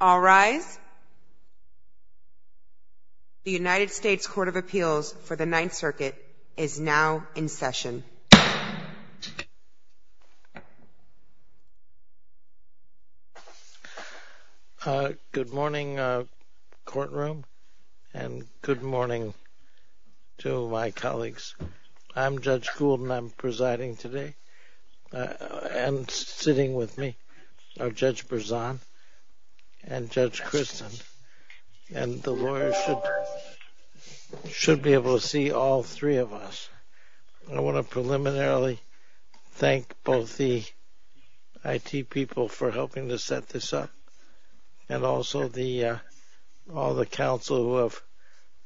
All rise. The United States Court of Appeals for the Ninth Circuit is now in session. Good morning courtroom and good morning to my colleagues. I'm Judge Gould and I'm presiding today. And sitting with me are Judge Berzon and Judge Christin. And the lawyers should be able to see all three of us. I want to preliminarily thank both the IT people for helping to set this up and also all the counsel who have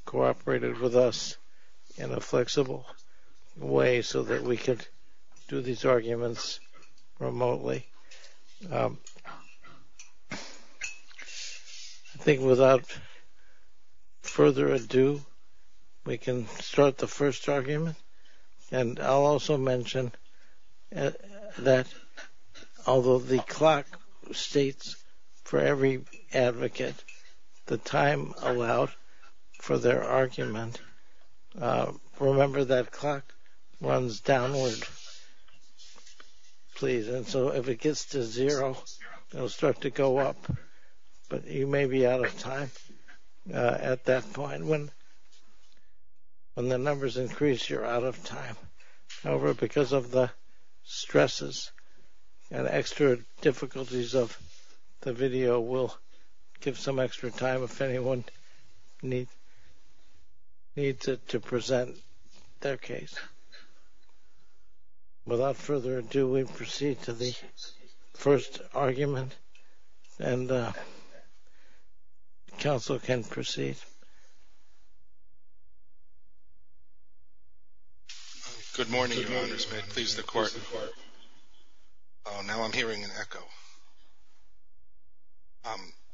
cooperated with us in a flexible way so that we could do these arguments remotely. I think without further ado, we can start the first argument. And I'll also mention that although the clock states for every advocate the time allowed for their argument, remember that clock runs downward. And so if it gets to zero, it'll start to go up. But you may be out of time at that point. When the numbers increase, you're out of time. However, because of the stresses and extra difficulties of the video, we'll give some extra time if anyone needs it to present their case. Without further ado, we proceed to the first argument. And counsel can proceed. Good morning, Your Honor. May it please the Court. Now I'm hearing an echo.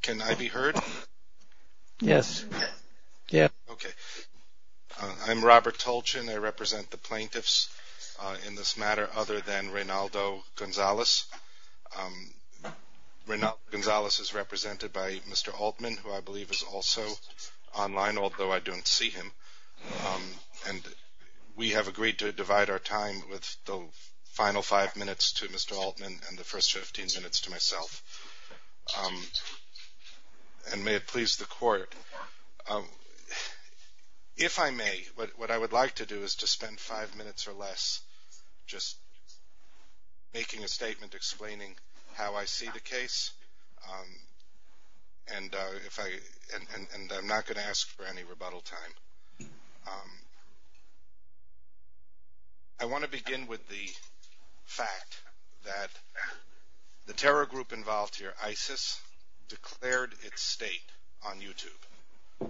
Can I be heard? Yes. Okay. I'm Robert Tolchin. I represent the plaintiffs in this matter other than Reynaldo Gonzalez. Reynaldo Gonzalez is represented by Mr. Altman, who I believe is also online, although I don't see him. And we have agreed to divide our time with the final five minutes to Mr. Altman and the first 15 minutes to myself. And may it please the Court. If I may, what I would like to do is to spend five minutes or less just making a statement explaining how I see the case. And I'm not going to ask for any rebuttal time. I want to begin with the fact that the terror group involved here, ISIS, declared its state on YouTube.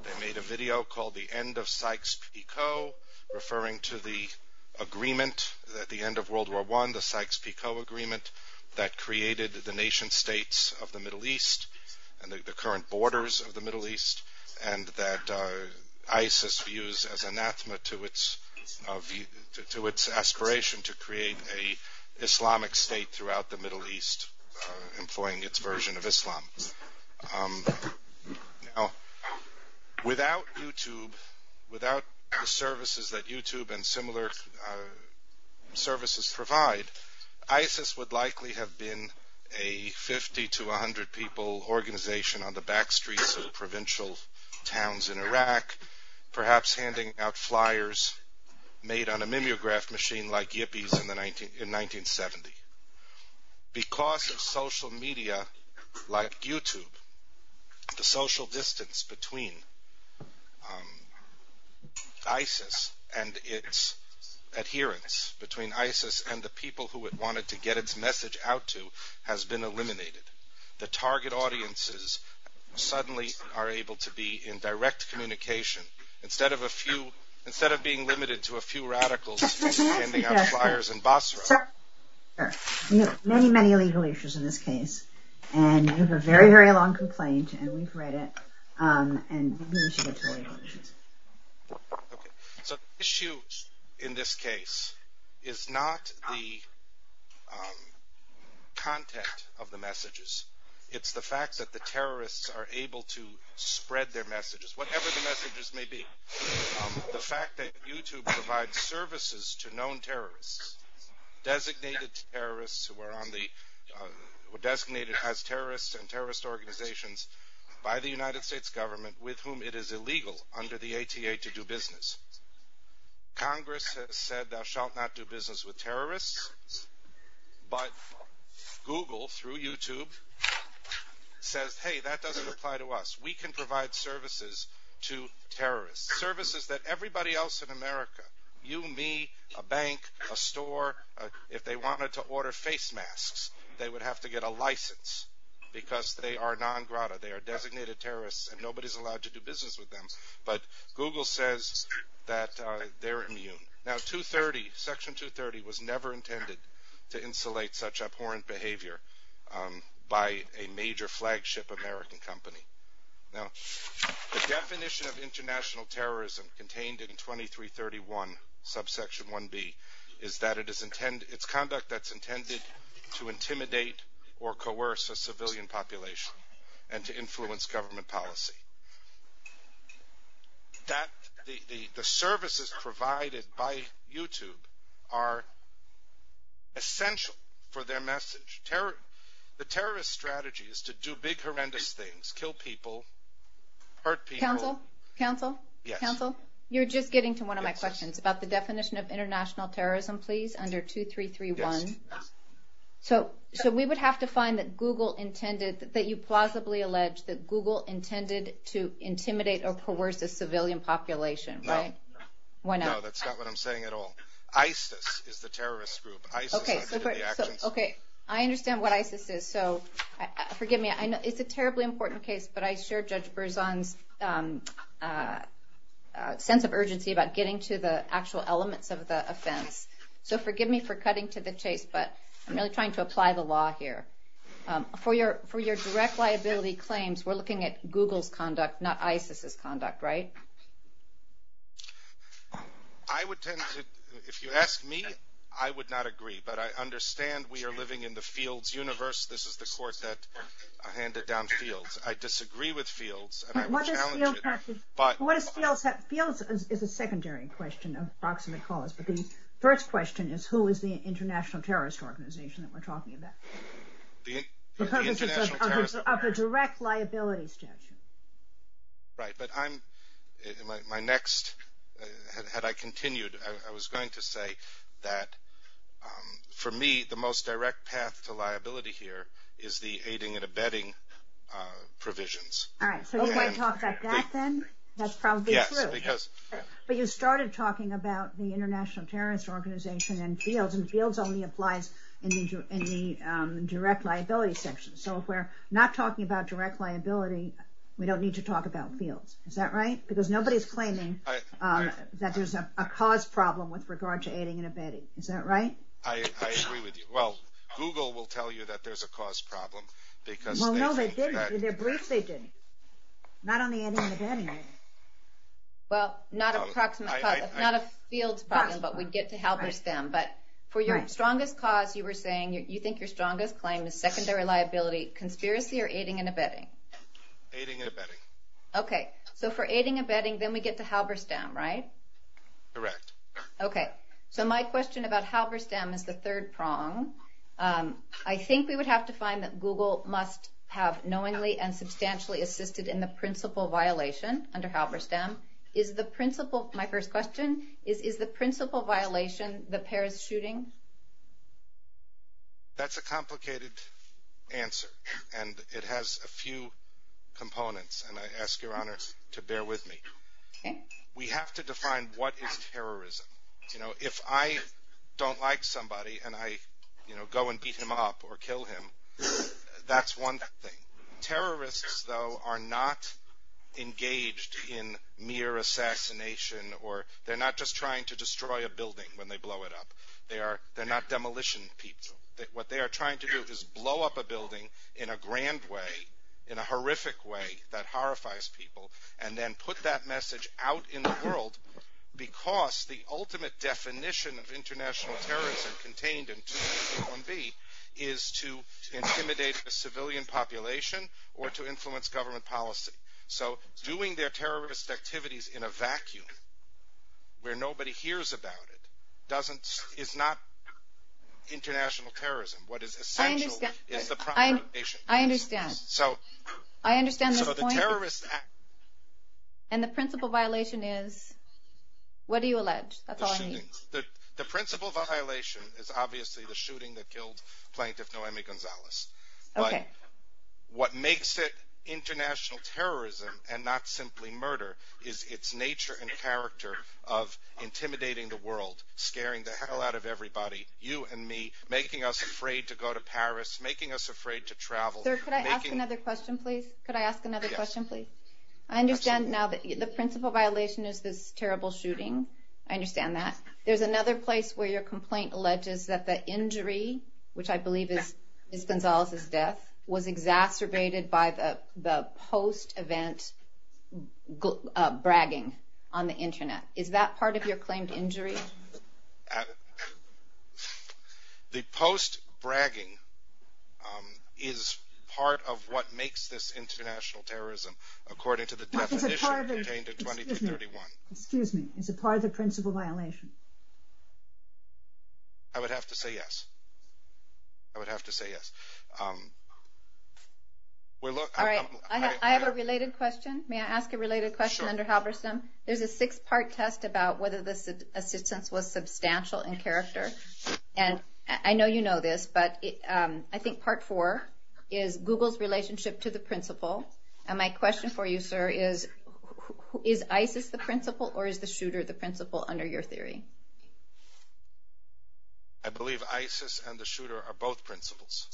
They made a video called The End of Sykes-Picot, referring to the agreement at the end of World War I, the Sykes-Picot Agreement, that created the nation-states of the Middle East and the current borders of the Middle East, and that ISIS views as anathema to its aspiration to create an Islamic state throughout the Middle East, employing its version of Islam. Now, without YouTube, without the services that YouTube and similar services provide, ISIS would likely have been a 50 to 100 people organization on the back streets of provincial towns in Iraq, perhaps handing out flyers made on a mimeograph machine like Yippies in 1970. Because of social media like YouTube, the social distance between ISIS and its adherents, between ISIS and the people who it wanted to get its message out to, has been eliminated. The target audiences suddenly are able to be in direct communication, instead of being limited to a few radicals handing out flyers in Basra. There are many, many legal issues in this case, and it is a very, very long complaint, and we've read it, and we believe it's a legal issue. The issue in this case is not the content of the messages, it's the fact that the terrorists are able to spread their messages, whatever the messages may be. The fact that YouTube provides services to known terrorists, designated as terrorists and terrorist organizations by the United States government, with whom it is illegal under the ATA to do business. Congress has said thou shalt not do business with terrorists, but Google, through YouTube, says, hey, that doesn't apply to us. We can provide services to terrorists, services that everybody else in America, you, me, a bank, a store, if they wanted to order face masks, they would have to get a license. Because they are non-vrata, they are designated terrorists, and nobody's allowed to do business with them, but Google says that they're immune. Now, 230, Section 230 was never intended to insulate such abhorrent behavior by a major flagship American company. Now, the definition of international terrorism contained in 2331, subsection 1b, is that it's conduct that's intended to intimidate or coerce a civilian population and to influence government policy. The services provided by YouTube are essential for their message. The terrorist strategy is to do big, horrendous things, kill people, hurt people. Counsel? Counsel? Counsel? You're just getting to one of my questions about the definition of international terrorism, please, under 2331. So we would have to find that Google intended – that you plausibly allege that Google intended to intimidate or coerce a civilian population, right? No. Why not? No, that's not what I'm saying at all. ISIS is the terrorist group. ISIS – Okay. I understand what ISIS is. So forgive me. I know it's a terribly important case, but I share Judge Berzon's sense of urgency about getting to the actual elements of the offense. So forgive me for cutting to the chase, but I'm really trying to apply the law here. For your direct liability claims, we're looking at Google's conduct, not ISIS's conduct, right? I would tend to – if you ask me, I would not agree, but I understand we are living in the Fields universe. This is the court that handed down Fields. I disagree with Fields. What does Fields have to – Fields is a secondary question of proximate cause, but the first question is, who is the international terrorist organization that we're talking about? The international terrorist organization. Of the direct liability statute. Right, but I'm – my next – had I continued, I was going to say that for me, the most direct path to liability here is the aiding and abetting provisions. All right. So you're going to talk about that then? That's probably true. Yes, because – But you started talking about the international terrorist organization and Fields, and Fields only applies in the direct liability section. So if we're not talking about direct liability, we don't need to talk about Fields. Is that right? Because nobody's claiming that there's a cause problem with regard to aiding and abetting. Is that right? I agree with you. Well, Google will tell you that there's a cause problem because – Well, no, they didn't. In their brief, they didn't. Not on the ending of anything. Well, not a field problem, but we get to Halberstam. But for your strongest cause, you were saying you think your strongest claim is secondary liability, conspiracy or aiding and abetting? Aiding and abetting. Okay. So for aiding and abetting, then we get to Halberstam, right? Correct. Okay. So my question about Halberstam is the third prong. I think we would have to find that Google must have knowingly and substantially assisted in the principal violation under Halberstam. Is the principal – my first question – is the principal violation the Paris shooting? That's a complicated answer, and it has a few components, and I ask Your Honor to bear with me. Okay. We have to define what is terrorism. If I don't like somebody and I go and beat him up or kill him, that's one thing. Terrorists, though, are not engaged in mere assassination or – they're not just trying to destroy a building when they blow it up. They're not demolition people. What they are trying to do is blow up a building in a grand way, in a horrific way that horrifies people, and then put that message out in the world because the ultimate definition of international terrorism contained in 201B is to intimidate the civilian population or to influence government policy. So doing their terrorist activities in a vacuum where nobody hears about it doesn't – is not international terrorism. What is essential is the population. I understand. I understand the point. So the terrorist – And the principal violation is – what do you allege? That's all I need. The principal violation is obviously the shooting that killed Plaintiff Noemi Gonzalez. Okay. What makes it international terrorism and not simply murder is its nature and character of intimidating the world, scaring the hell out of everybody, you and me, making us afraid to go to Paris, making us afraid to travel. Sir, could I ask another question, please? Could I ask another question, please? Yes. I understand now that the principal violation is this terrible shooting. I understand that. There's another place where your complaint alleges that the injury, which I believe is Ms. Gonzalez's death, was exacerbated by the post-event bragging on the Internet. Is that part of your claim to injury? The post-bragging is part of what makes this international terrorism according to the definition contained in 2231. Excuse me. Is it part of the principal violation? I would have to say yes. I would have to say yes. All right. I have a related question. May I ask a related question under Halverson? Sure. There's a six-part test about whether the assistance was substantial in character. I know you know this, but I think part four is Google's relationship to the principal. My question for you, sir, is ISIS the principal or is the shooter the principal under your theory? I believe ISIS and the shooter are both principals.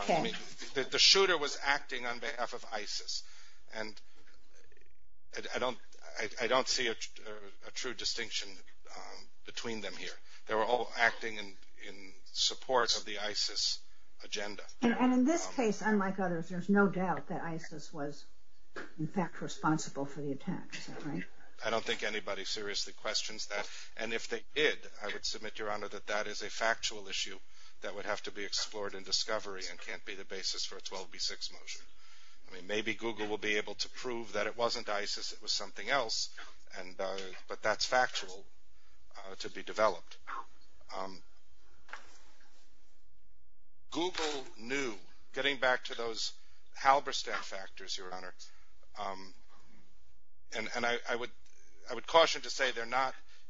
Okay. The shooter was acting on behalf of ISIS, and I don't see a true distinction between them here. They were all acting in support of the ISIS agenda. And in this case, unlike others, there's no doubt that ISIS was, in fact, responsible for the attempt, right? I don't think anybody seriously questions that. And if they did, I would submit, Your Honor, that that is a factual issue that would have to be explored in discovery and can't be the basis for a 12B6 motion. I mean, maybe Google will be able to prove that it wasn't ISIS, it was something else, but that's factual to be developed. Google knew, getting back to those Halberstam factors, Your Honor, and I would caution to say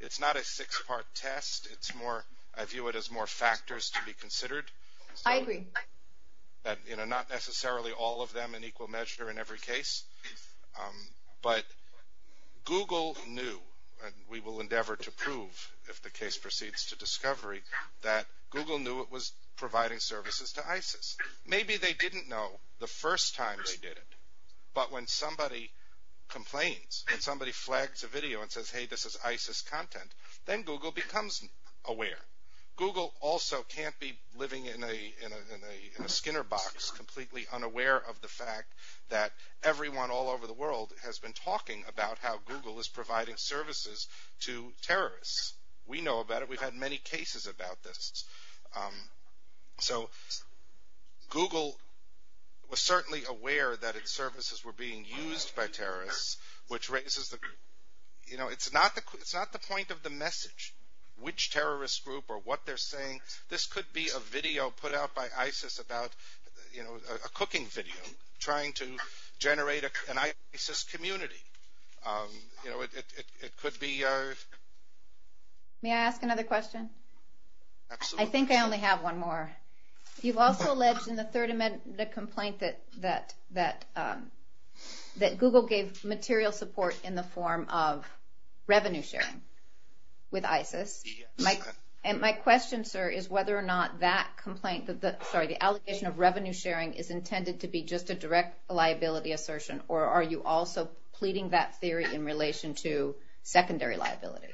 it's not a six-part test. I view it as more factors to be considered. I agree. Not necessarily all of them in equal measure in every case, but Google knew, and we will endeavor to prove if the case proceeds to discovery, that Google knew it was providing services to ISIS. Maybe they didn't know the first time they did it, but when somebody complains and somebody flags a video and says, Hey, this is ISIS content, then Google becomes aware. Google also can't be living in a Skinner box completely unaware of the fact that everyone all over the world has been talking about how Google is providing services to terrorists. We know about it. We've had many cases about this. So Google was certainly aware that its services were being used by terrorists, which raises the question. It's not the point of the message, which terrorist group or what they're saying. This could be a video put out by ISIS about a cooking video trying to generate an ISIS community. May I ask another question? I think I only have one more. You've also alleged in the third amendment the complaint that Google gave material support in the form of revenue sharing with ISIS. And my question, sir, is whether or not that complaint, sorry, the allegation of revenue sharing is intended to be just a direct liability assertion, or are you also pleading that theory in relation to secondary liability?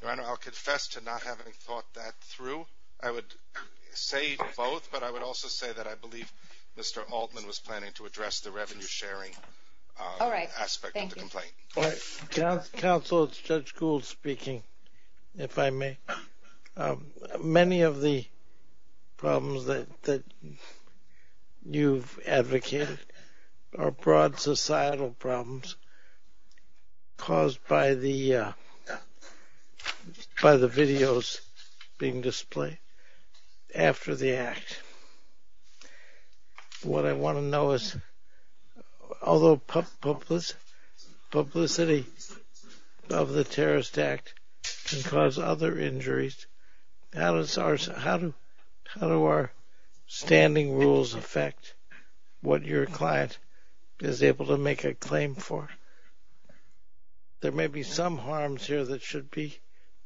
Your Honor, I'll confess to not having thought that through. I would say both, but I would also say that I believe Mr. Altman was planning to address the revenue sharing aspect of the complaint. Counsel, it's Judge Gould speaking, if I may. Many of the problems that you've advocated are broad societal problems caused by the videos being displayed after the act. What I want to know is, although publicity of the terrorist act can cause other injuries, how do our standing rules affect what your client is able to make a claim for? There may be some harms here that should be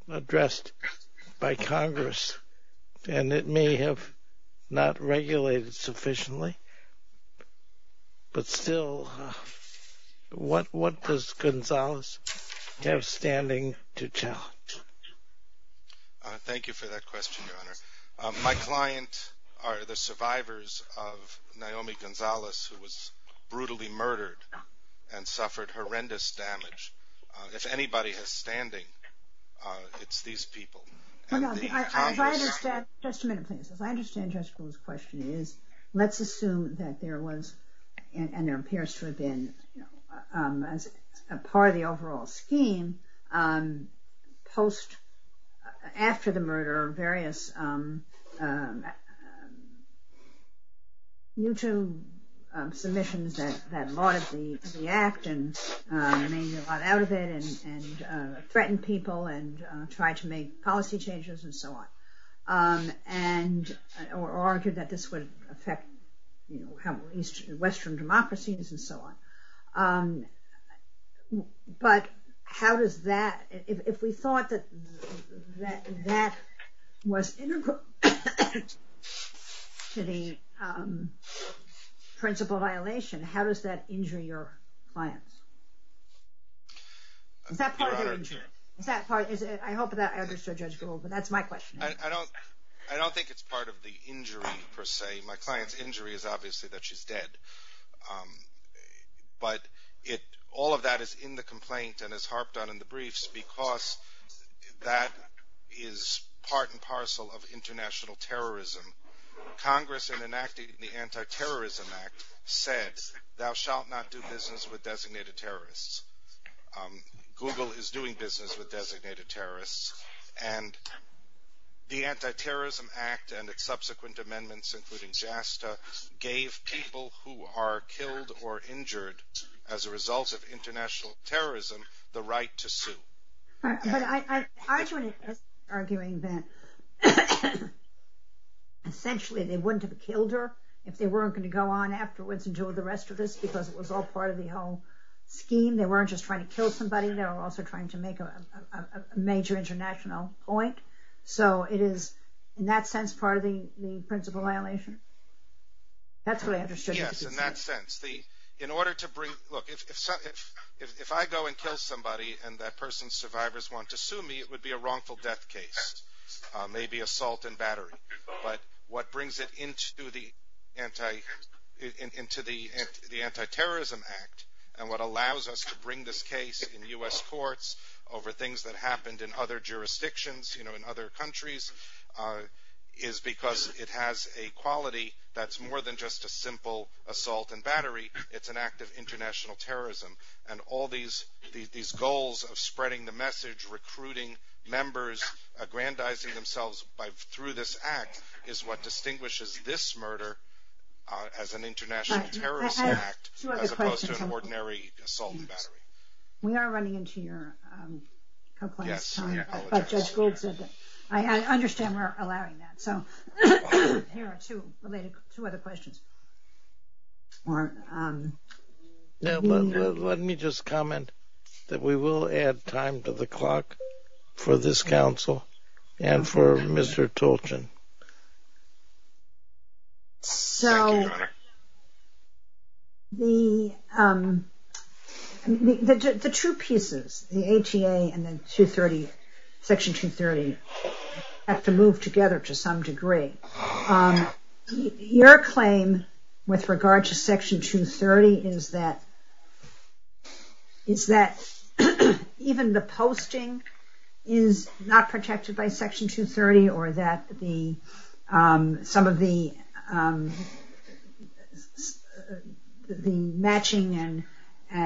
addressed by Congress, and it may have not regulated sufficiently. But still, what does Gonzalez have standing to tell? Thank you for that question, Your Honor. My clients are the survivors of Naomi Gonzalez, who was brutally murdered and suffered horrendous damage. If anybody has standing, it's these people. If I understand Judge Gould's question, let's assume that there was, and there appears to have been, a part of the overall scheme post, after the murder, various YouTube submissions that lauded the act, made a lot out of it and threatened people and tried to make policy changes and so on, and argued that this would affect Western democracies and so on. But how does that, if we thought that that was integral to the principal violation, how does that injure your client? I hope that I understood Judge Gould, but that's my question. I don't think it's part of the injury, per se. My client's injury is obviously that she's dead. But all of that is in the complaint and is harped on in the briefs because that is part and parcel of international terrorism. Congress, in enacting the Anti-Terrorism Act, said, thou shalt not do business with designated terrorists. Google is doing business with designated terrorists. And the Anti-Terrorism Act and its subsequent amendments, including JASTA, gave people who are killed or injured as a result of international terrorism the right to sue. I'm arguing that essentially they wouldn't have killed her if they weren't going to go on afterwards and do the rest of this, because it was all part of the whole scheme. They weren't just trying to kill somebody, they were also trying to make a major international point. So it is, in that sense, part of the principal violation. That's what I understood. Yes, in that sense. In order to bring, look, if I go and kill somebody and that person's survivors want to sue me, it would be a wrongful death case. Maybe assault and battery. But what brings it into the Anti-Terrorism Act, and what allows us to bring this case in U.S. courts over things that happened in other jurisdictions, in other countries, is because it has a quality that's more than just a simple assault and battery. It's an act of international terrorism. And all these goals of spreading the message, recruiting members, aggrandizing themselves through this act, is what distinguishes this murder as an international terrorist act as opposed to an ordinary assault and battery. We are running into your complaints. Yes. I understand we're allowing that. Here are two other questions. Let me just comment that we will add time to the clock for this council and for Mr. Tolchin. So the two pieces, the HEA and Section 230, have to move together to some degree. Your claim with regard to Section 230 is that even the posting is not protected by Section 230, or that some of the matching and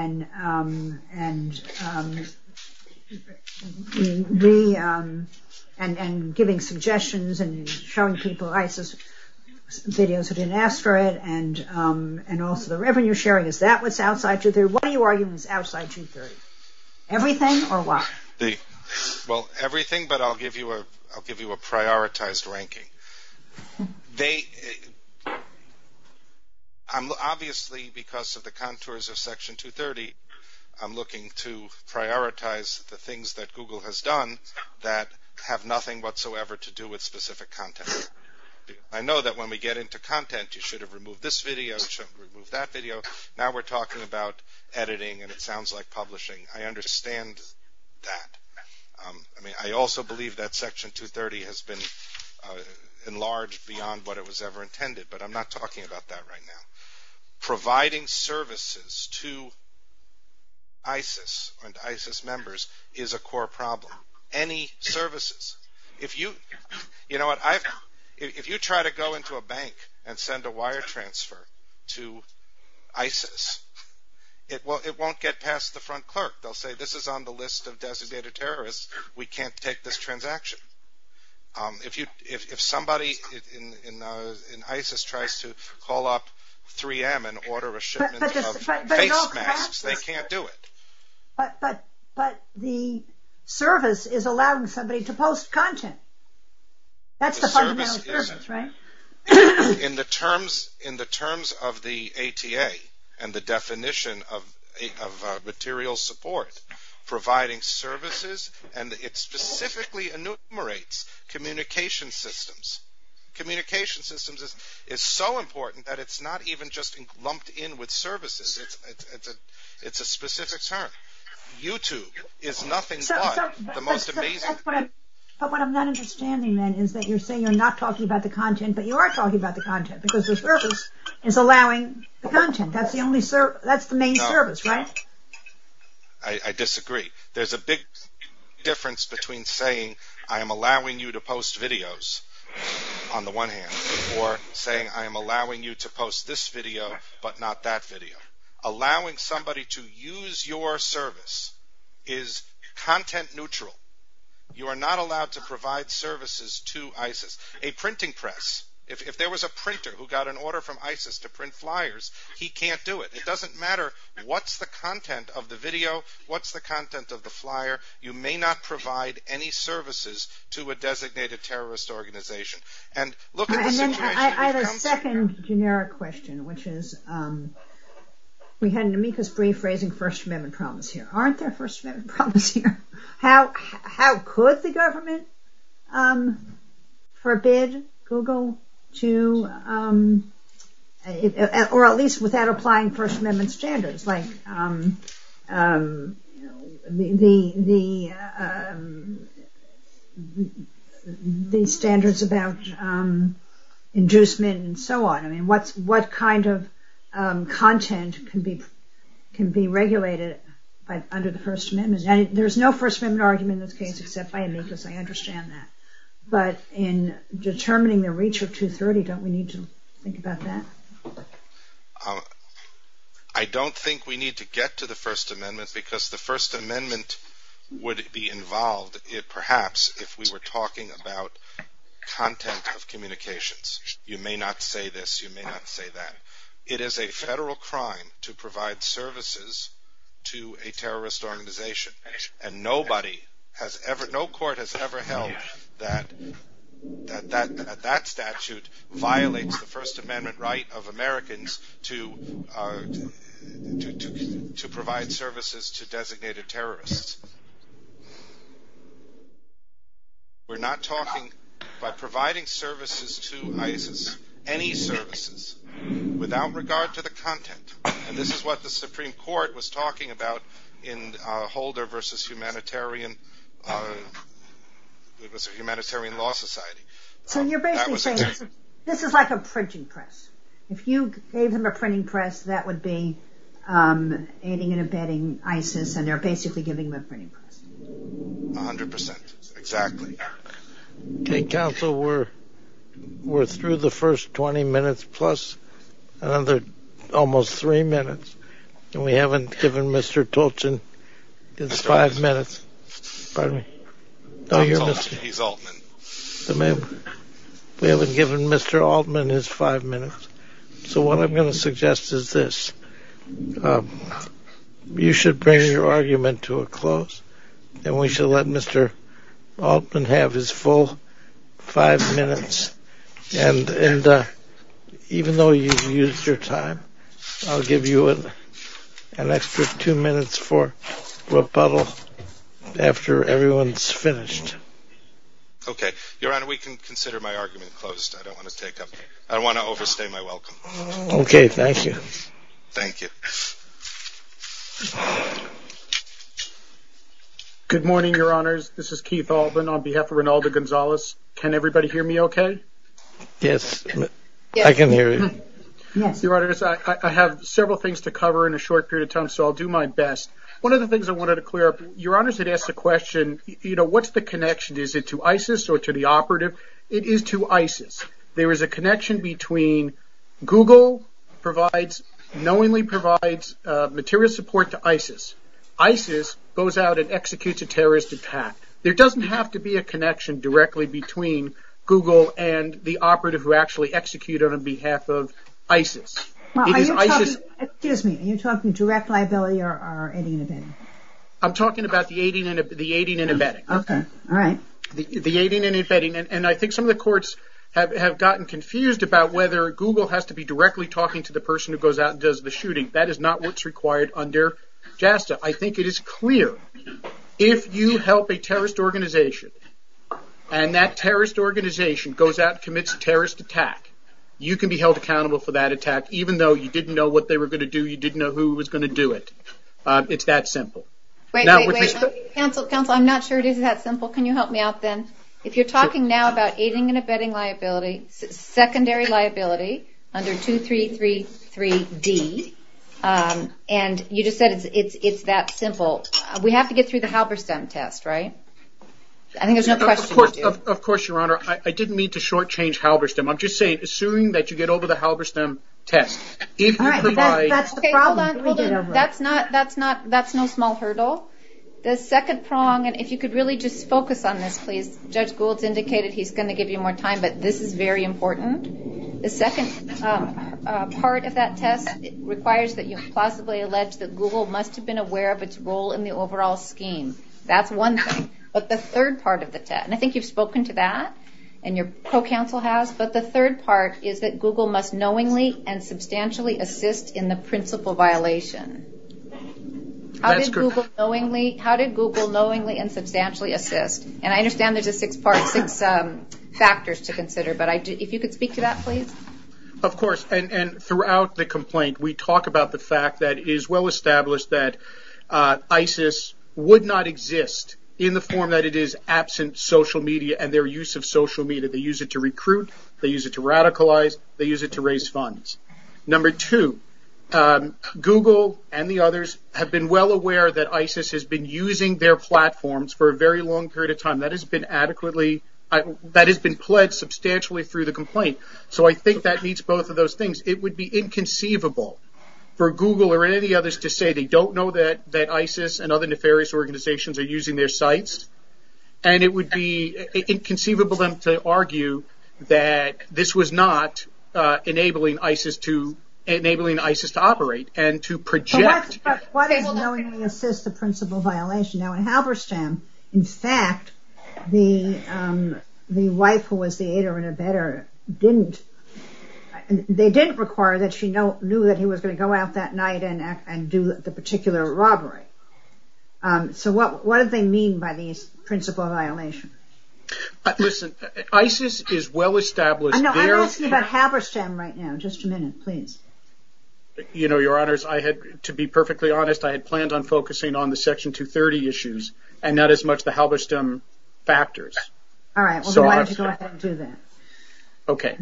giving suggestions and showing people ISIS videos that didn't ask for it, and also the revenue sharing, is that what's outside 230? What are you arguing is outside 230? Everything or what? Well, everything, but I'll give you a prioritized ranking. Obviously, because of the contours of Section 230, I'm looking to prioritize the things that Google has done that have nothing whatsoever to do with specific content. I know that when we get into content, you should have removed this video, you should have removed that video. Now we're talking about editing, and it sounds like publishing. I understand that. I mean, I also believe that Section 230 has been enlarged beyond what it was ever intended, but I'm not talking about that right now. Providing services to ISIS and ISIS members is a core problem. Any services. You know what, if you try to go into a bank and send a wire transfer to ISIS, it won't get past the front clerk. They'll say, this is on the list of designated terrorists. We can't take this transaction. If somebody in ISIS tries to call up 3M and order a shipment of face masks, they can't do it. But the service is allowing somebody to post content. That's the fundamental service, right? In the terms of the ATA and the definition of material support, providing services, and it specifically enumerates communication systems. Communication systems is so important that it's not even just lumped in with services. It's a specific term. YouTube is nothing but the most amazing... But what I'm not understanding, then, is that you're saying you're not talking about the content, but you are talking about the content, because the service is allowing the content. That's the main service, right? I disagree. There's a big difference between saying, I am allowing you to post videos on the one hand, or saying, I am allowing you to post this video but not that video. Allowing somebody to use your service is content neutral. You are not allowed to provide services to ISIS. A printing press, if there was a printer who got an order from ISIS to print flyers, he can't do it. It doesn't matter what's the content of the video, what's the content of the flyer. You may not provide any services to a designated terrorist organization. I have a second generic question, which is... We had Namita's brief raising First Amendment problems here. Aren't there First Amendment problems here? How could the government forbid Google to... Or at least without applying First Amendment standards, like... Inducement and so on. What kind of content can be regulated under the First Amendment? There's no First Amendment argument in this case, except by me, because I understand that. But in determining the reach of 230, don't we need to think about that? I don't think we need to get to the First Amendment, because the First Amendment would be involved, perhaps, if we were talking about content of communications. You may not say this, you may not say that. It is a federal crime to provide services to a terrorist organization. And nobody has ever... No court has ever held that that statute violates the First Amendment right of Americans to provide services to designated terrorists. We're not talking about providing services to ISIS, any services, without regard to the content. And this is what the Supreme Court was talking about in Holder v. Humanitarian Law Society. So you're basically saying, this is like a printing press. If you gave them a printing press, that would be aiding and abetting ISIS, and they're basically giving them a printing press. A hundred percent. Exactly. Okay, counsel, we're through the first 20 minutes, plus another almost three minutes. And we haven't given Mr. Tolton his five minutes. Pardon me? He's Altman. We haven't given Mr. Altman his five minutes. So what I'm going to suggest is this. You should bring your argument to a close, and we should let Mr. Altman have his full five minutes. And even though you've used your time, I'll give you an extra two minutes for rebuttal after everyone's finished. Okay. Your Honor, we can consider my argument closed. I don't want to take up... I don't want to overstay my welcome. Okay, thank you. Good morning, Your Honors. This is Keith Altman on behalf of Reynaldo Gonzalez. Can everybody hear me okay? Yes, I can hear you. Your Honors, I have several things to cover in a short period of time, so I'll do my best. One of the things I wanted to clear up, Your Honors had asked a question, you know, what's the connection? Is it to ISIS or to the operative? It is to ISIS. There is a connection between Google provides, knowingly provides material support to ISIS. ISIS goes out and executes a terrorist attack. There doesn't have to be a connection directly between Google and the operative who actually executed on behalf of ISIS. Excuse me, are you talking direct liability or aiding and abetting? I'm talking about the aiding and abetting. Okay, all right. The aiding and abetting. And I think some of the courts have gotten confused about whether Google has to be directly talking to the person who goes out and does the shooting. That is not what's required under JASTA. I think it is clear if you help a terrorist organization and that terrorist organization goes out and commits a terrorist attack, you can be held accountable for that attack even though you didn't know what they were going to do, you didn't know who was going to do it. It's that simple. Wait, wait, wait. Cancel, cancel. I'm not sure it is that simple. Can you help me out then? If you're talking now about aiding and abetting liability, secondary liability under 2333D, and you just said it's that simple. We have to get through the Halberstam test, right? I think there's no question. Of course, Your Honor. I didn't mean to shortchange Halberstam. I'm just saying, assuming that you get over the Halberstam test. All right. That's the problem. That's no small hurdle. The second prong, and if you could really just focus on this, please. Judge Gould has indicated he's going to give you more time, but this is very important. The second part of that test requires that you possibly allege that Google must have been aware of its role in the overall scheme. That's one thing. But the third part of the test, and I think you've spoken to that and your co-counsel has, but the third part is that Google must knowingly and substantially assist in the principal violation. That's correct. How did Google knowingly and substantially assist? And I understand that there's six factors to consider, but if you could speak to that, please. Of course. And throughout the complaint, we talk about the fact that it is well-established that ISIS would not exist in the form that it is absent social media and their use of social media. They use it to recruit. They use it to radicalize. They use it to raise funds. Number two, Google and the others have been well aware that ISIS has been using their platforms for a very long period of time. That has been adequately – that has been pledged substantially through the complaint. So I think that meets both of those things. It would be inconceivable for Google or any others to say they don't know that ISIS and other nefarious organizations are using their sites, and it would be inconceivable for them to argue that this was not enabling ISIS to operate and to project – But what is knowingly assist the principal violation? Now, Halberstam, in fact, the wife who was the aider and abetter didn't – they didn't require that she knew that he was going to go out that night and do the particular robbery. So what do they mean by the principal violation? Listen, ISIS is well-established. I'm asking about Halberstam right now. Just a minute, please. You know, Your Honors, to be perfectly honest, I had planned on focusing on the Section 230 issues and not as much the Halberstam factors. All right. So why did you let them do that? Okay.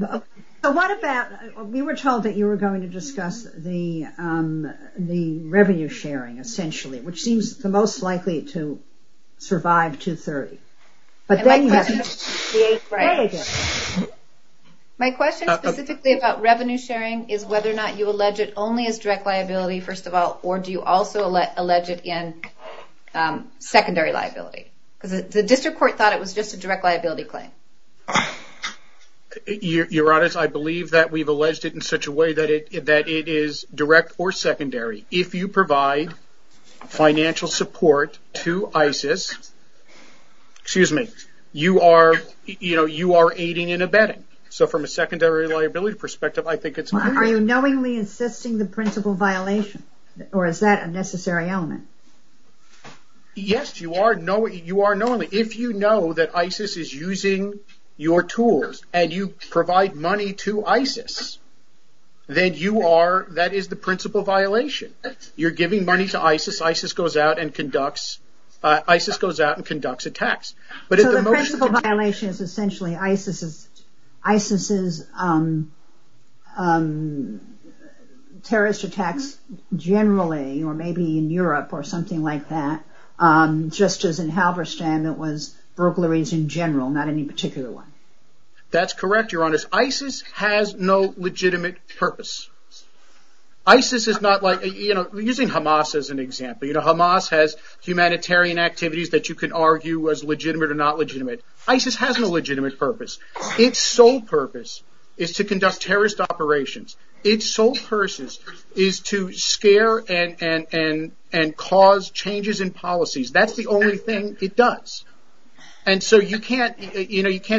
So what about – we were told that you were going to discuss the revenue sharing, essentially, which seems the most likely to survive 230. My question specifically about revenue sharing is whether or not you allege it only as direct liability, first of all, or do you also allege it in secondary liability? Because the district court thought it was just a direct liability claim. Your Honors, I believe that we've alleged it in such a way that it is direct or secondary. If you provide financial support to ISIS – excuse me – you are aiding and abetting. So from a secondary liability perspective, I think it's – Are you knowingly insisting the principal violation, or is that a necessary element? Yes, you are knowingly. If you know that ISIS is using your tools and you provide money to ISIS, then you are – that is the principal violation. You're giving money to ISIS, ISIS goes out and conducts – ISIS goes out and conducts attacks. So the principal violation is essentially ISIS's terrorist attacks generally, or maybe in Europe or something like that, just as in Halberstam it was burglaries in general, not any particular one. That's correct, Your Honors. ISIS has no legitimate purpose. ISIS is not like – using Hamas as an example, Hamas has humanitarian activities that you can argue was legitimate or not legitimate. ISIS has no legitimate purpose. Its sole purpose is to conduct terrorist operations. Its sole purpose is to scare and cause changes in policies. That's the only thing it does. And so you can't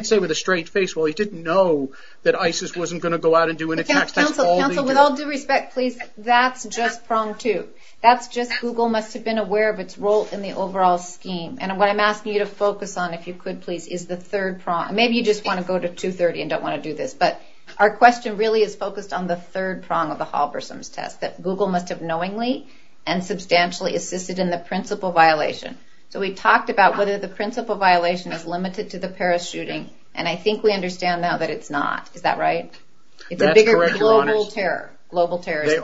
say with a straight face, well, he didn't know that ISIS wasn't going to go out and do an attack. Counsel, with all due respect, please, that's just prong two. That's just Google must have been aware of its role in the overall scheme. And what I'm asking you to focus on, if you could please, is the third prong. Maybe you just want to go to 230 and don't want to do this, but our question really is focused on the third prong of the Halberstam test, that Google must have knowingly and substantially assisted in the principal violation. So we talked about whether the principal violation is limited to the parachuting, and I think we understand now that it's not. Is that right? That's correct. It's a bigger global terrorist.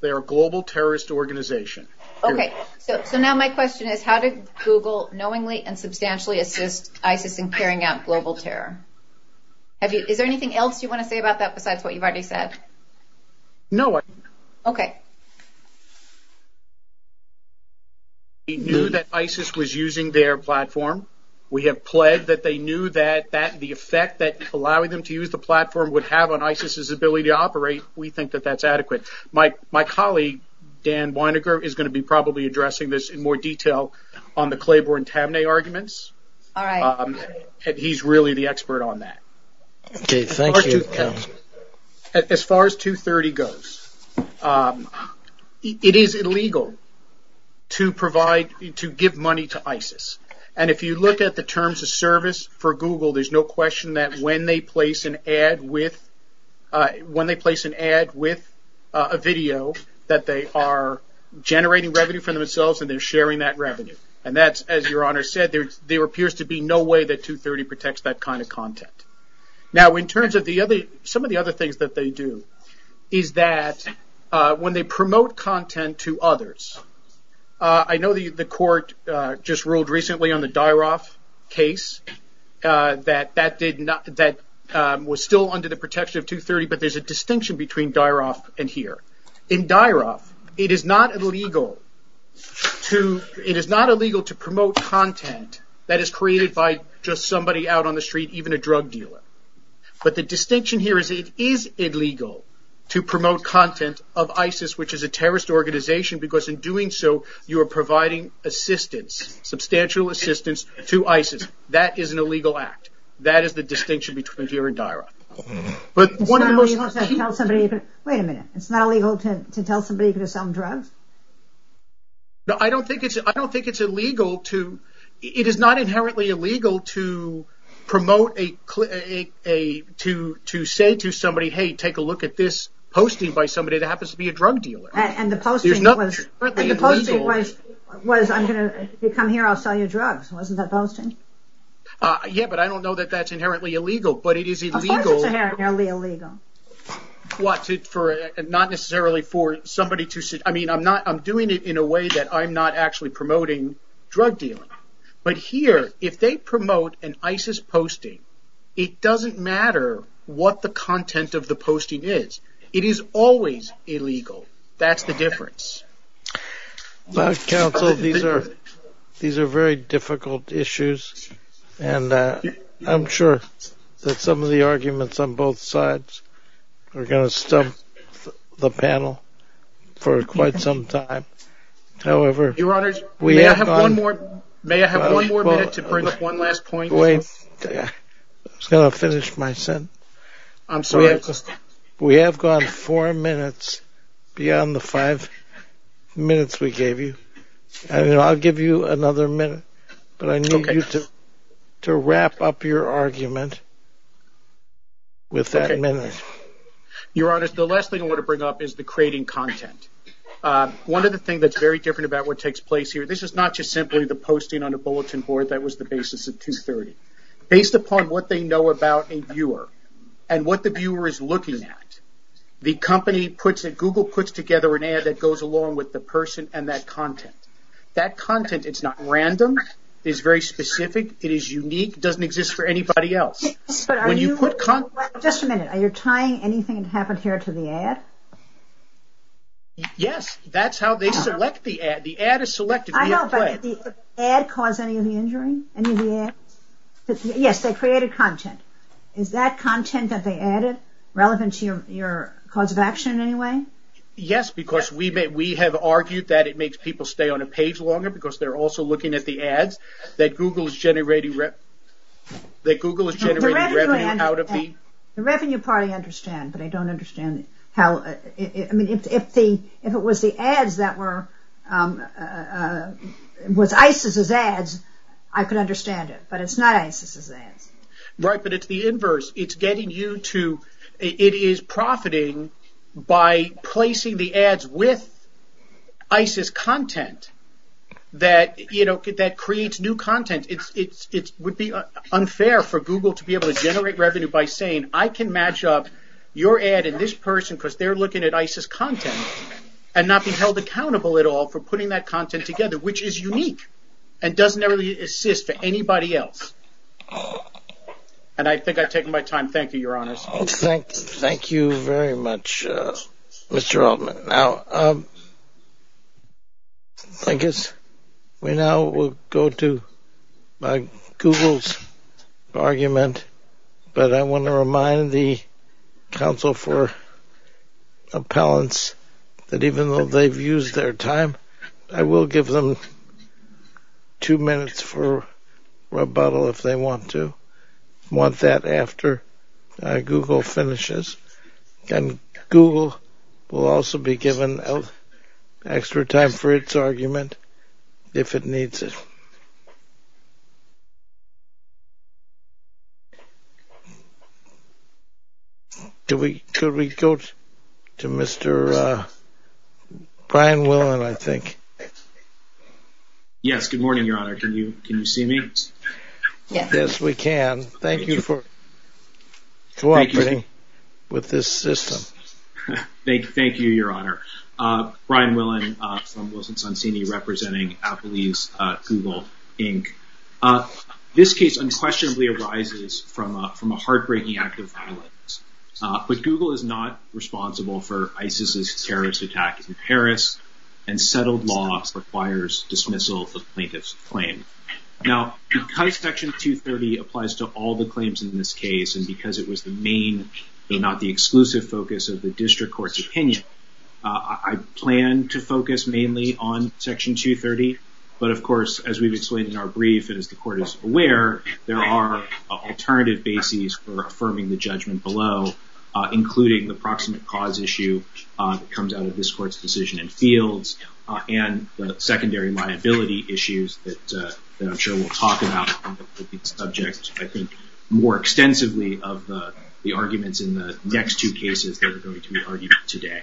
They are a global terrorist organization. Okay. So now my question is, how did Google knowingly and substantially assist ISIS in carrying out global terror? Is there anything else you want to say about that besides what you've already said? No. Okay. We knew that ISIS was using their platform. We have pledged that they knew that the effect that allowing them to use the platform would have on ISIS' ability to operate, we think that that's adequate. My colleague, Dan Weinegger, is going to be probably addressing this in more detail on the Claiborne-Tamnay arguments. All right. And he's really the expert on that. Okay. Thank you. As far as 230 goes, it is illegal to provide, to give money to ISIS. And if you look at the terms of service for Google, there's no question that when they place an ad with a video, that they are generating revenue for themselves and they're sharing that revenue. And that's, as Your Honor said, there appears to be no way that 230 protects that kind of content. Now, in terms of some of the other things that they do is that when they promote content to others, I know the court just ruled recently on the Dairov case that that was still under the protection of 230, but there's a distinction between Dairov and here. In Dairov, it is not illegal to promote content that is created by just somebody out on the street, even a drug dealer. But the distinction here is it is illegal to promote content of ISIS, which is a terrorist organization, because in doing so, you are providing assistance, substantial assistance to ISIS. That is an illegal act. That is the distinction between here and Dairov. Wait a minute. It's not illegal to tell somebody to sell a drug? No, I don't think it's illegal to – it is not inherently illegal to promote a – to say to somebody, hey, take a look at this posting by somebody that happens to be a drug dealer. And the posting was, if you come here, I'll sell you drugs. Wasn't that the posting? Yeah, but I don't know that that's inherently illegal, but it is illegal – Why is it inherently illegal? Well, it's for – not necessarily for somebody to say – I mean, I'm not – I'm doing it in a way that I'm not actually promoting drug dealers. But here, if they promote an ISIS posting, it doesn't matter what the content of the posting is. It is always illegal. That's the difference. Counsel, these are – these are very difficult issues, and I'm sure that some of the arguments on both sides are going to stump the panel for quite some time. However – Your Honor, may I have one more minute to bring up one last point? Wait. I'm just going to finish my sentence. I'm sorry. We have gone four minutes beyond the five minutes we gave you. I'll give you another minute, but I need you to wrap up your argument with that minute. Your Honor, the last thing I want to bring up is the creating content. One of the things that's very different about what takes place here – this is not just simply the posting on a bulletin board that was the basis of 230. Based upon what they know about a viewer and what the viewer is looking at, the company puts – Google puts together an ad that goes along with the person and that content. That content is not random. It is very specific. It is unique. It doesn't exist for anybody else. But are you – When you put content – Just a minute. Are you tying anything that happened here to the ad? Yes. That's how they select the ad. The ad is selected. I know, but did the ad cause any of the injury? Any of the ads? Yes, they created content. Is that content that they added relevant to your cause of action in any way? Yes, because we have argued that it makes people stay on a page longer because they're also looking at the ads. That Google is generating revenue out of the – The revenue part I understand, but I don't understand how – If it was the ads that were – With ISIS's ads, I could understand it, but it's not ISIS's ads. Right, but it's the inverse. It's getting you to – It is profiting by placing the ads with ISIS content that creates new content. It would be unfair for Google to be able to generate revenue by saying, I can match up your ad and this person because they're looking at ISIS content and not be held accountable at all for putting that content together, which is unique and doesn't really assist anybody else. I think I've taken my time. Thank you, Your Honor. Thank you very much, Mr. Altman. I guess we now will go to Google's argument, but I want to remind the counsel for appellants that even though they've used their time, I will give them two minutes for rebuttal if they want to. I want that after Google finishes, and Google will also be given extra time for its argument if it needs it. Could we go to Mr. Brian Willen, I think? Yes, good morning, Your Honor. Can you see me? Yes, we can. Thank you for cooperating with this system. Thank you, Your Honor. Brian Willen from Wilson-Sonsini representing Applebees, Google, Inc. This case unquestionably arises from a heartbreaking act of violence, but Google is not responsible for ISIS's terrorist attack in Paris, and settled law requires dismissal of plaintiff's claim. Now, because Section 230 applies to all the claims in this case and because it was the main but not the exclusive focus of the district court's opinion, I plan to focus mainly on Section 230, but of course, as we've explained in our brief and as the court is aware, there are alternative bases for affirming the judgment below, including the proximate cause issue that comes out of this court's decision in fields and the secondary liability issues that I'm sure we'll talk about on the subject, I think, more extensively of the arguments in the next two cases that are going to be argued today.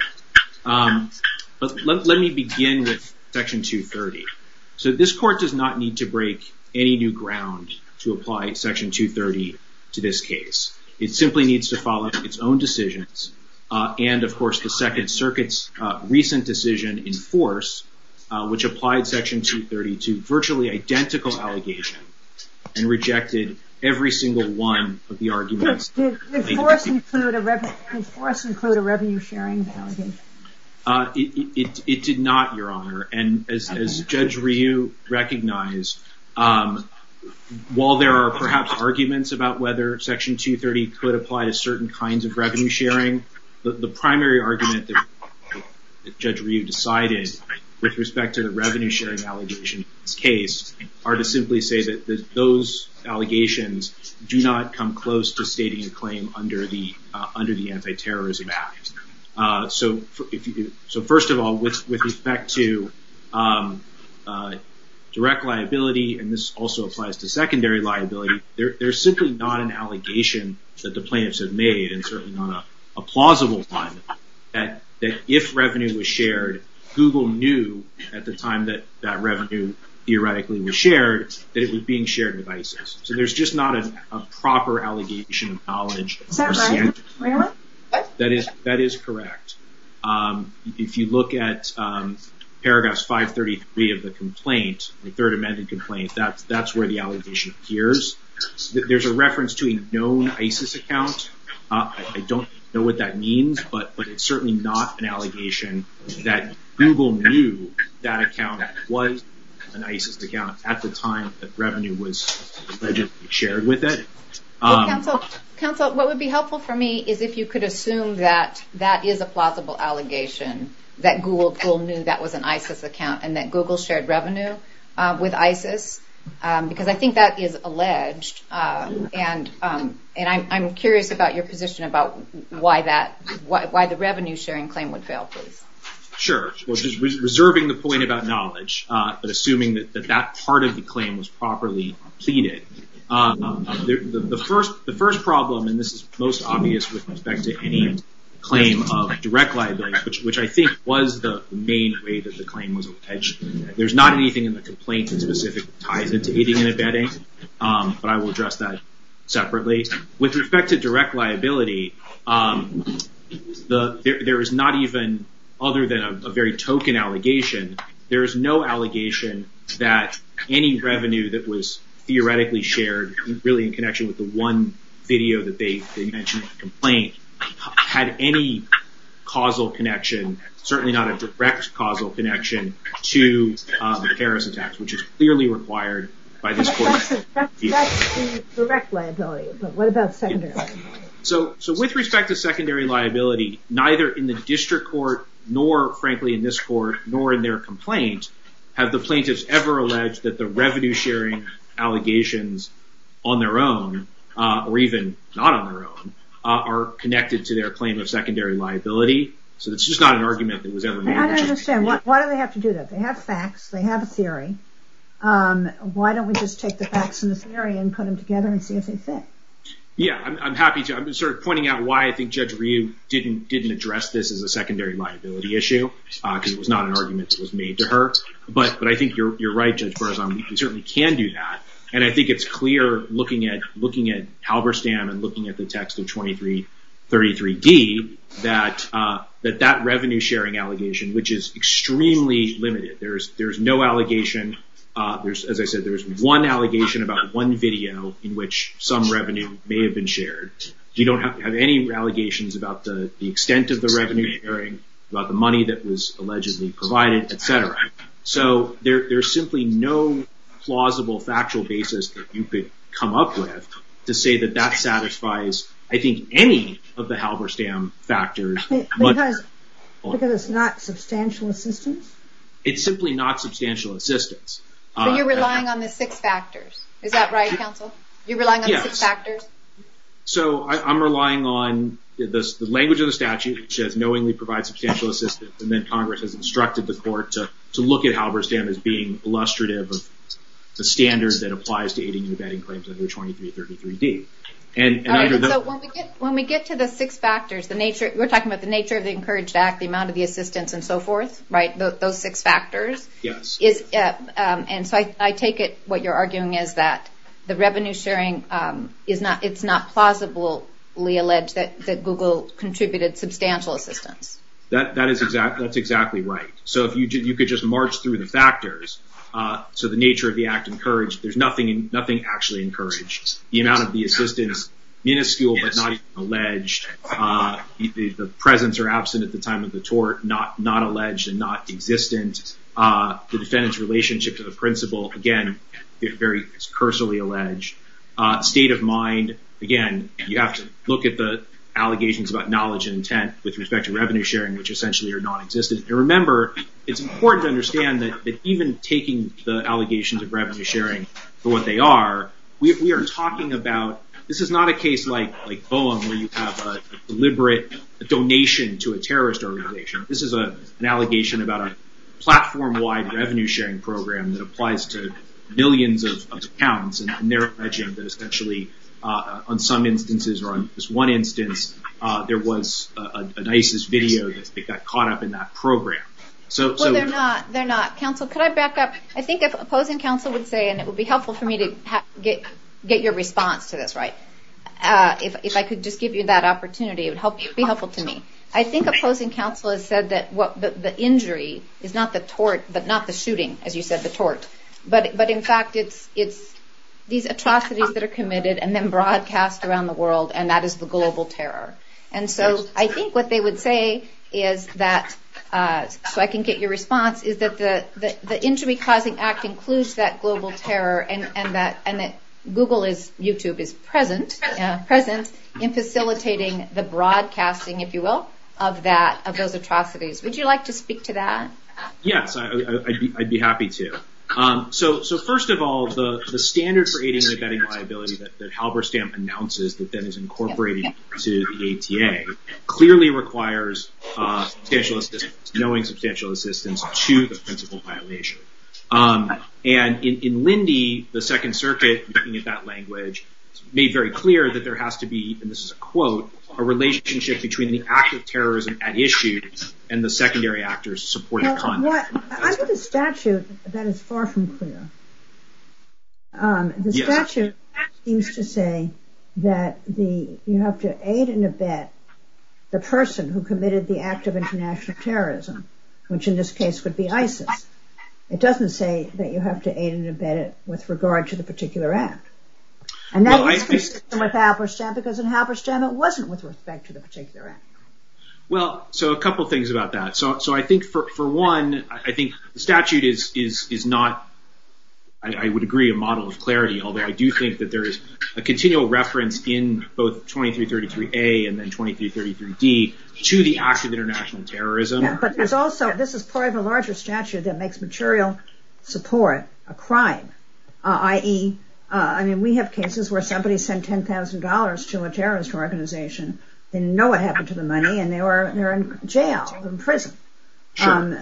Let me begin with Section 230. So this court does not need to break any new ground to apply Section 230 to this case. It simply needs to follow up its own decisions and, of course, the Second Circuit's recent decision in force, which applied Section 230 to virtually identical allegations and rejected every single one of the arguments. Did force include a revenue-sharing allegation? It did not, Your Honor, and as Judge Ryu recognized, while there are perhaps arguments about whether Section 230 could apply to certain kinds of revenue-sharing, the primary argument that Judge Ryu decided with respect to the revenue-sharing allegations in this case are to simply say that those allegations do not come close to stating a claim under the Anti-Terrorism Act. So first of all, with respect to direct liability, and this also applies to secondary liability, there's simply not an allegation that the plaintiffs have made, and certainly not a plausible one, that if revenue was shared, Google knew at the time that that revenue theoretically was shared, that it was being shared with ISIS. So there's just not a proper allegation of knowledge. Is that right, Your Honor? That is correct. If you look at Paragraphs 533 of the complaint, the Third Amendment complaint, that's where the allegation appears. There's a reference to a known ISIS account. I don't know what that means, but it's certainly not an allegation that Google knew that account was an ISIS account at the time that revenue was allegedly shared with it. Counsel, what would be helpful for me is if you could assume that that is a plausible allegation, that Google knew that was an ISIS account, and that Google shared revenue with ISIS, because I think that is alleged, and I'm curious about your position about why the revenue-sharing claim would fail, please. Sure. Reserving the point about knowledge, but assuming that that part of the claim was properly pleaded, the first problem, and this is most obvious with respect to any claim of direct liability, which I think was the main way that the claim was alleged, there's not anything in the complaint that specifically ties it to aiding and abetting, but I will address that separately. With respect to direct liability, there is not even, other than a very token allegation, there is no allegation that any revenue that was theoretically shared, really in connection with the one video that they mentioned in the complaint, had any causal connection, certainly not a direct causal connection, to the Harris attacks, which is clearly required by this court. So, with respect to secondary liability, neither in the district court, nor frankly in this court, nor in their complaints, have the plaintiffs ever alleged that the revenue-sharing allegations on their own, or even not on their own, are connected to their claim of secondary liability, so it's just not an argument that was ever made. I don't understand, why do they have to do that? They have facts, they have a theory, why don't we just take the facts from the theory and put them together and see if they fit? Yeah, I'm happy to, I'm just sort of pointing out why I think Judge Ryu didn't address this as a secondary liability issue, because it was not an argument that was made to her, but I think you're right, Judge Berzon, we certainly can do that, and I think it's clear, looking at Halberstam, and looking at the text of 23d, you can see that that revenue-sharing allegation, which is extremely limited, there's no allegation, as I said, there's one allegation about one video in which some revenue may have been shared, you don't have any allegations about the extent of the revenue-sharing, about the money that was allegedly provided, etc. So there's simply no plausible factual basis that you could come up with to say that that satisfies, I think, any of the Halberstam factors. Because it's not substantial assistance? It's simply not substantial assistance. So you're relying on the six factors, is that right, counsel? You're relying on the six factors? So I'm relying on the language of the statute, which says knowingly provide substantial assistance, and then Congress has instructed the court to look at Halberstam as being illustrative of the standard that applies to aiding and abetting claims under 2333d. When we get to the six factors, we're talking about the nature of the Encouraged Act, the amount of the assistance, and so forth, right? Those six factors. And so I take it what you're arguing is that the revenue-sharing, it's not plausibly alleged that Google contributed substantial assistance. That is exactly right. So you could just march through the factors. So the nature of the Act Encouraged, there's nothing actually encouraged. The amount of the assistance, minuscule but not even alleged. The presence or absence at the time of the tort, not alleged and not existent. The defendant's relationship to the principal, again, it's very personally alleged. State of mind, again, you have to look at the allegations about knowledge and intent with respect to revenue-sharing, which essentially are non-existent. And remember, it's important to understand that even taking the allegations of revenue-sharing for what they are, we are talking about, this is not a case like Vaughan, where you have a deliberate donation to a terrorist organization. This is an allegation about a platform-wide revenue-sharing program that applies to millions of accounts. And there, actually, on some instances, or on this one instance, there was an ISIS video that got caught up in that program. Well, they're not. Counsel, could I back up? I think a closing counsel would say, and it would be helpful for me to get your response to this, right? If I could just give you that opportunity, it would be helpful to me. I think a closing counsel has said that the injury is not the tort, but not the shooting, as you said, the tort. But in fact, it's these atrocities that are committed and then broadcast around the world, and that is the global terror. And so, I think what they would say is that, so I can get your response, is that the Injury Causing Act includes that global terror and that Google is, YouTube is present, present in facilitating the broadcasting, if you will, of that, of those atrocities. Would you like to speak to that? Yes, I'd be happy to. So, first of all, the standard for aid and identity liability that Halberstam announces, that then is incorporated into the ATA, clearly requires knowing substantial assistance to the principal violation. And in Lindy, the Second Circuit, looking at that language, made very clear that there has to be, and this is a quote, a relationship between the act of terrorism at issue and the secondary actors supporting the content. I think the statute, that is far from clear. The statute used to say that the, you have to aid and abet the person who committed the act of international terrorism, which in this case would be ISIS. It doesn't say that you have to aid and abet it with regard to the particular act. And that was consistent with Halberstam because in Halberstam it wasn't with respect to the particular act. Well, so a couple things about that. So, I think for one, I think the statute is not, I would agree, a model of clarity, although I do think that there is a continual reference in both 2333A and then 2333D to the act of international terrorism. Yeah, but there's also, this is part of a larger statute that makes material support a crime. I mean, we have cases where somebody sent $10,000 to a terrorist organization, didn't know what happened to the money, and they're in jail, in prison. So,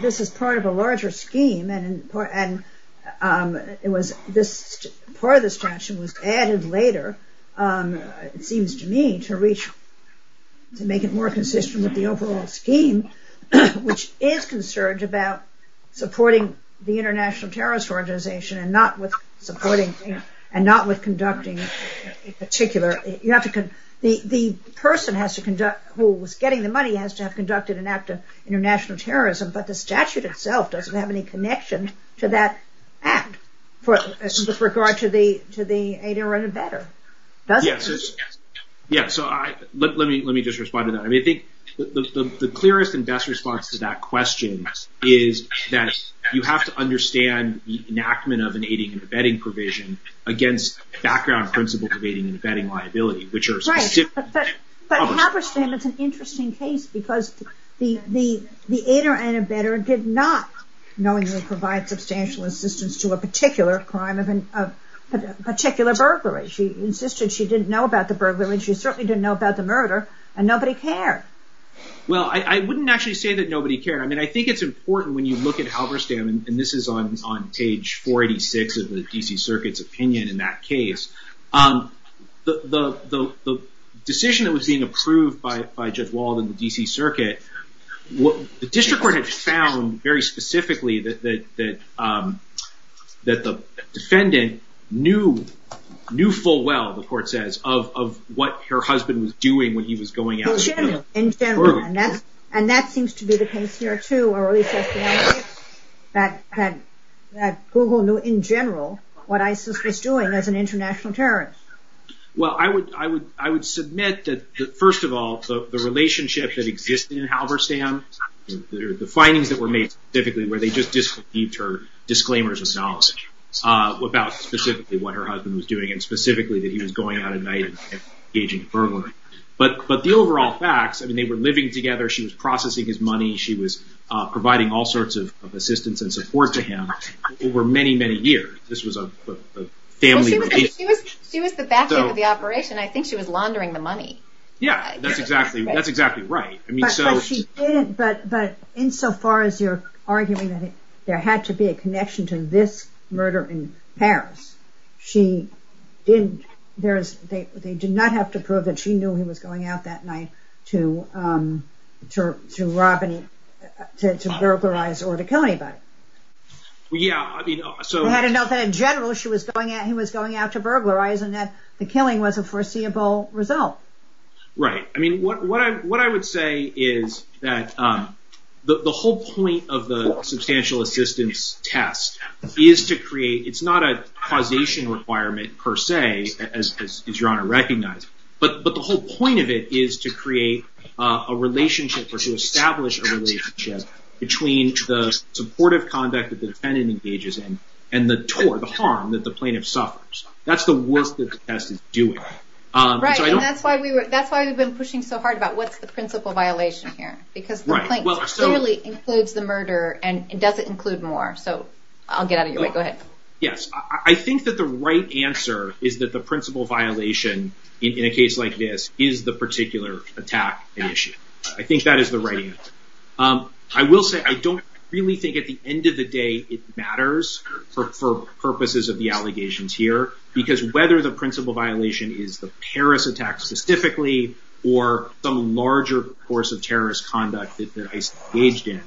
this is part of a larger scheme and part of this statute was added later, it seems to me, to reach, to make it more consistent with the overall scheme, which is concerned about supporting the international terrorist organization and not with supporting, and not with conducting a particular, you have to, the person has to conduct, who was getting the money has to have conducted an act of international terrorism, but the statute itself doesn't have any connection to that act with regard to the aider and abettor. Yeah, so let me just respond to that. I mean, I think the clearest and best response to that question is that you have to understand the enactment of an aiding and abetting provision against background principles of aiding and abetting liability, which are... Right, but Happerstam is an interesting case because the aider and abettor did not knowingly provide substantial assistance to a particular crime of a particular burglary. She insisted she didn't know about the burglary. She certainly didn't know about the murder and nobody cared. Well, I wouldn't actually say that nobody cared. I mean, I think it's important when you look at Happerstam, and this is on page 486 of the D.C. Circuit's opinion in that case, the decision that was being approved by Jeff Wald in the D.C. Circuit, the district court had found very specifically that the defendant knew full well, the court says, of what her husband was doing when he was going out. In general, in general. And that seems to be the case here, too. Google knew, in general, what ISIS was doing as an international terrorist. Well, I would submit that, first of all, the relationship that existed in Happerstam, the findings that were made specifically where they just received her disclaimers of knowledge about specifically what her husband was doing and specifically that he was going out at night and engaging in burglary. But the overall facts, I mean, they were living together, she was processing his money, she was providing all sorts of assistance and support to him over many, many years. This was a family relationship. She was the back end of the operation. I think she was laundering the money. Yeah, that's exactly right. But insofar as you're arguing that there had to be a connection to this murder in Paris, they did not have to prove that she knew he was going out that night to rob and to burglarize or to kill anybody. Well, yeah. We had to know that in general she was going out, he was going out to burglarize and that the killing was a foreseeable result. Right. I mean, what I would say is that the whole point of the substantial assistance test is to create, it's not a causation requirement per se, as Your Honor recognized, but the whole point of it is to create a relationship or to establish a relationship between the supportive conduct that the defendant engages in and the harm that the plaintiff suffers. That's the work that the test is doing. Right, and that's why we've been pushing so hard about what's the principal violation here because the plaintiff clearly includes the murder and doesn't include more. So I'll get out of your way. Go ahead. Yes, I think that the right answer is that the principal violation in a case like this is the particular attack and issue. I think that is the right answer. I will say I don't really think that at the end of the day it matters for purposes of the allegations here because whether the principal violation is the terrorist attack specifically or some larger force of terrorist conduct that is engaged in,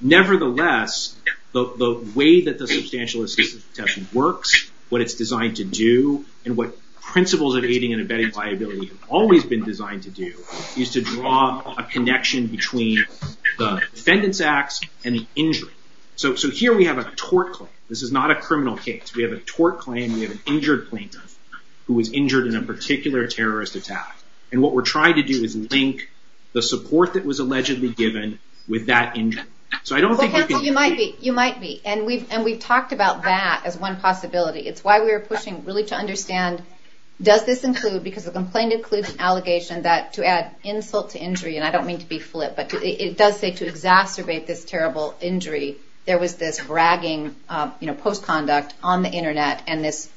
nevertheless, the way that the substantial assistance test works, what it's designed to do, and what principles of aiding and abetting liability have always been designed to do is to draw a connection between the defendant's acts and the injury. So here we have a tort claim. This is not a criminal case. We have a tort claim. We have an injured plaintiff who was injured in a particular terrorist attack. And what we're trying to do is link the support that was allegedly given with that injury. So I don't think you can... You might be. And we've talked about that as one possibility. It's why we're pushing really to understand does this include, because the complainant includes an allegation that to add insult to injury, and I don't mean to be flip, but it does say to exacerbate this terrible injury, there was this bragging post-conduct on the internet and this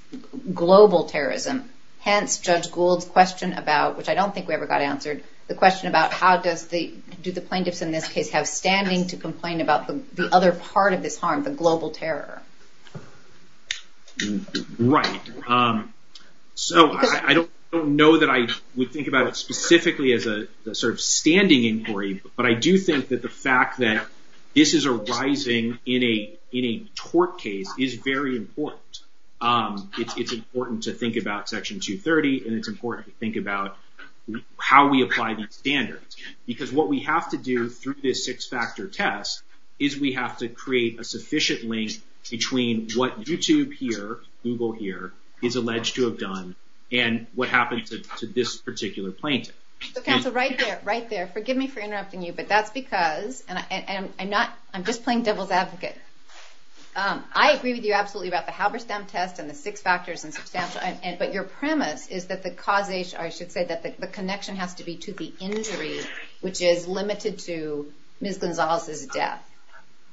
global terrorism. Hence Judge Gould's question about, which I don't think we ever got answered, the question about how does the... Do the plaintiffs in this case have standing to complain about the other part of the harm, the global terror? Right. So I don't know that I would think about it as a standing inquiry, but I do think that the fact that this is arising in a tort case is very important. It's important to think about Section 230 and it's important to think about how we apply these standards. Because what we have to do through this six-factor test is we have to create a sufficient link between what YouTube here, Google here, is alleged to have done and what happened to this particular plaintiff. Okay, so right there, right there. Forgive me for interrupting you, but that's because... I'm just playing devil's advocate. I agree with you absolutely about the Halberstam test and the six factors and... But your premise is that the causation... I should say that the connection has to be to the injury, which is limited to Ms. Gonzalez's death.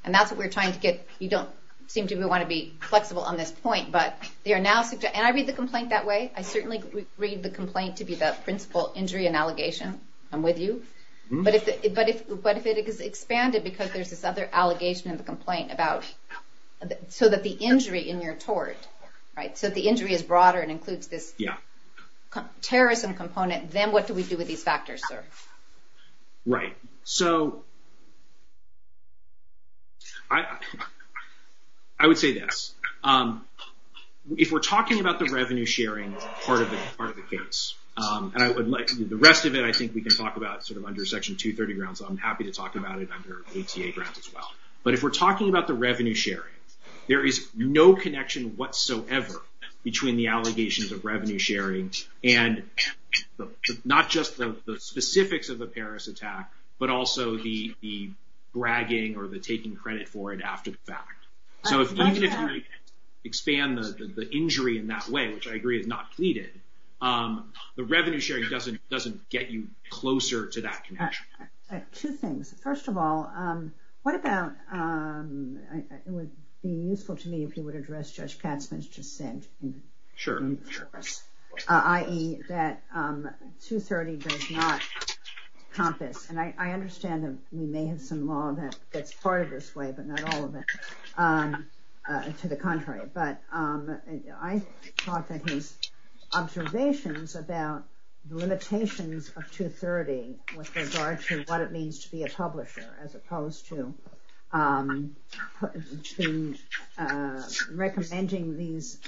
And that's what we're trying to get... You don't seem to want to be flexible on this point, but they are now... And I read the complaint that way. I certainly read the complaint to be about principal injury and allegation. I'm with you. But if it is expanded because there's this other allegation in the complaint about... So that the injury in your tort, right? So if the injury is broader and includes this terrorism component, then what do we do with these factors, sir? Right. So... I would say this. If we're talking about the revenue sharing then part of it is part of the case. The rest of it I think we can talk about sort of under Section 230 grounds. I'm happy to talk about it under ATA grounds as well. But if we're talking about the revenue sharing, there is no connection whatsoever between the allegations of revenue sharing and not just the specifics of the Paris attack, but also the bragging or the taking credit for it after the fact. So if we can expand the injury in that way, which I agree is not pleaded, the revenue sharing doesn't get you closer to that connection. Two things. First of all, what about... It would be useful to me if you would address Judge Katzman's just saying. Sure, sure. I.e. that 230 does not contest. And I understand that you may have some law that's part of this way, but not all of it. To the contrary. But I thought that his observations about the limitations of 230 with regard to what it means to be a publisher as opposed to recommending these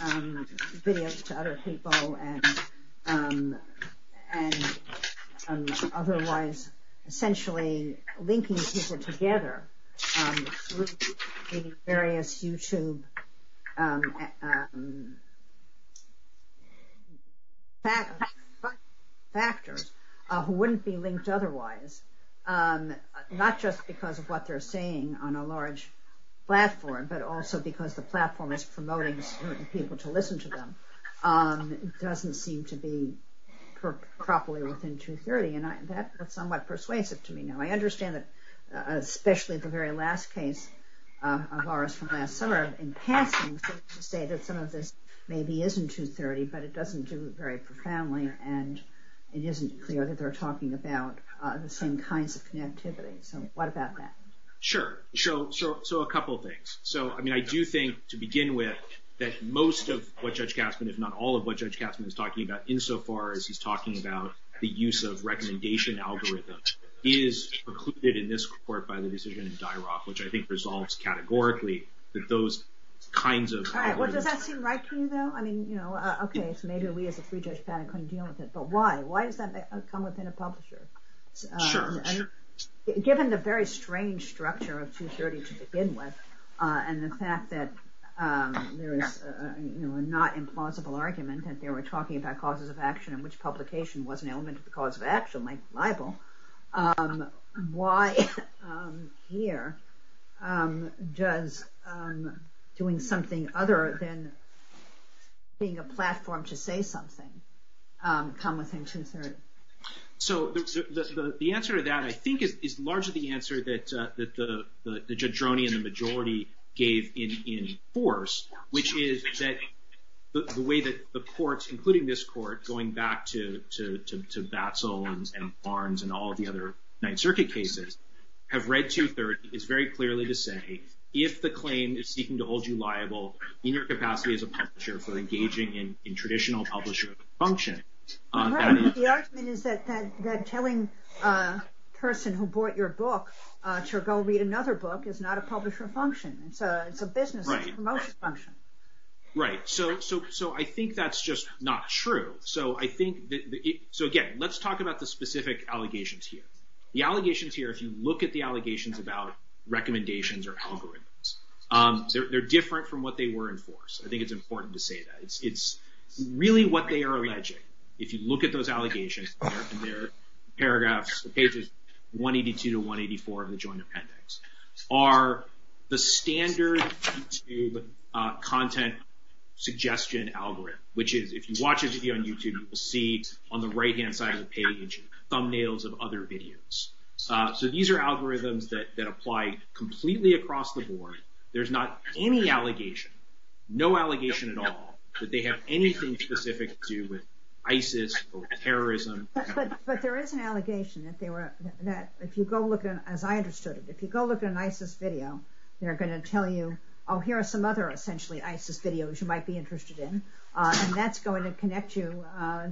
videos to other people and otherwise essentially linking people together through various YouTube factors who wouldn't be linked otherwise, not just because of what they're saying on a large platform, but also because the platform is promoting people to listen to them, doesn't seem to be properly within 230. And that's somewhat persuasive to me. I understand that especially the very last case of ours from last summer, in passing, some of this maybe isn't 230, but it doesn't do it very profoundly and it isn't clear that they're talking about the same kinds of connectivity. So what about that? Sure. So a couple of things. So I do think to begin with that most of what Judge Katzman, if not all of what Judge Katzman is talking about insofar as he's talking about the use of recommendation algorithms is precluded in this court by the decision in DIROC, which I think resolves categorically that those kinds of... All right, well, does that seem right to you, though? I mean, you know, okay, so maybe we as a pre-judge panel couldn't deal with it, but why? Why does that come within a publisher? Sure, sure. Given the very strange structure of 230 to begin with and the fact that there is, you know, a not implausible argument that they were talking about causes of action and which publication wasn't element of the cause of action, might be liable. Why here does doing something other than being a platform to say something come within 230? So the answer to that, I think, is largely the answer that the judge Roni which is that the way that the courts, including this court going back to Basel and Barnes and all the other Ninth Circuit cases, have read 230 is very clearly to say if the claim is seeking to hold you liable, in your capacity as a publisher for engaging in traditional publisher function. Right, the argument is that telling a person who bought your book to go read another book is not a publisher function. It's a business promotion function. Right, so I think that's just not true. So I think, so again, let's talk about the specific allegations here. The allegations here, if you look at the allegations about recommendations or algorithms, they're different from what they were in force. I think it's important to say that. It's really what they are alleging. If you look at those allegations, there are paragraphs, the cases 182 to 184 of the Joint Appendix are the standard YouTube content suggestion algorithm which is, if you watch a video on YouTube, you will see on the right-hand side of the page thumbnails of other videos. So these are algorithms that apply completely across the board. There's not any allegation, no allegation at all, that they have anything specific to ISIS or terrorism. But there is an allegation that they were, that if you go look at, as I understood it, if you go look at an ISIS video, they're going to tell you, oh, here are some other essentially ISIS videos that you might be interested in. And that's going to connect you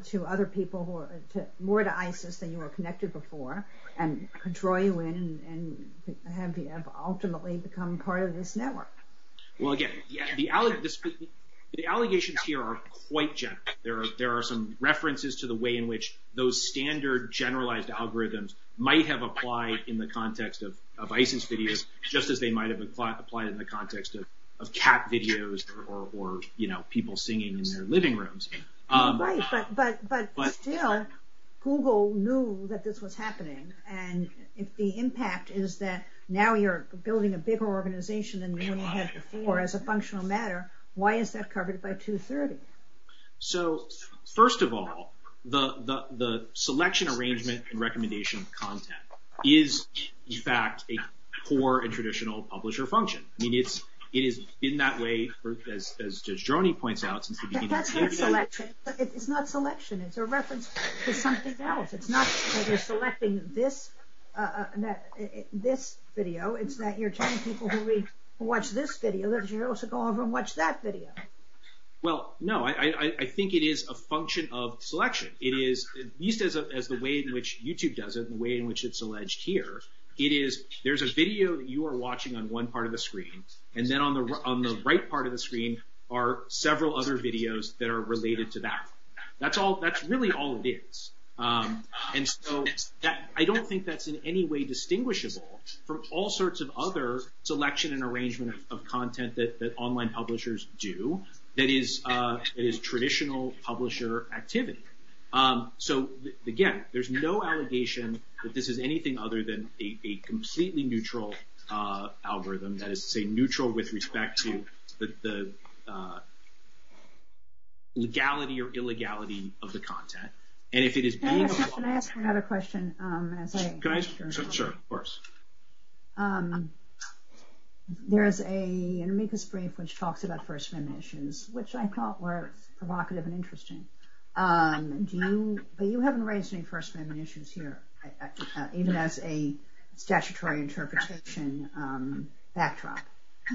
to other people who are more to ISIS than you were connected before and draw you in and have you ultimately become part of this network. Well, again, the allegations here are quite general. There are some references to the way in which those standard generalized algorithms might have applied in the context of ISIS videos just as they might have applied in the context of cat videos or, you know, people singing in their living rooms. Right, but still, Google knew that this was happening. And the impact is that now you're building a bigger organization than anyone has before as a functional matter. Why is that covered by 230? So, first of all, the selection, arrangement, and recommendation of content is in fact a core and traditional publisher function. I mean, it is in that way, as Joanie points out... That's not selection. It's not selection. It's a reference to something else. It's not that you're selecting this video. It's that you're telling people to watch this video that you're also going to watch that video. Well, no, I think it is a function of selection. It is, at least as the way in which YouTube does it, the way in which it's alleged here, it is there's a video you are watching on one part of the screen, and then on the right part of the screen are several other videos that are related to that. That's really all it is. And so I don't think that's in any way distinguishable from all sorts of other selection and arrangement of content that online publishers do that is traditional publisher activity. So, again, there's no allegation that this is anything other than a completely neutral algorithm that is, say, neutral with respect to the legality or illegality of the content. And if it is... Can I ask you another question? Can I? Sure, of course. There's an Amicus brief which talks about first-man issues, which I thought were provocative and interesting. But you haven't raised any first-man issues here, even as a statutory interpretation backdrop.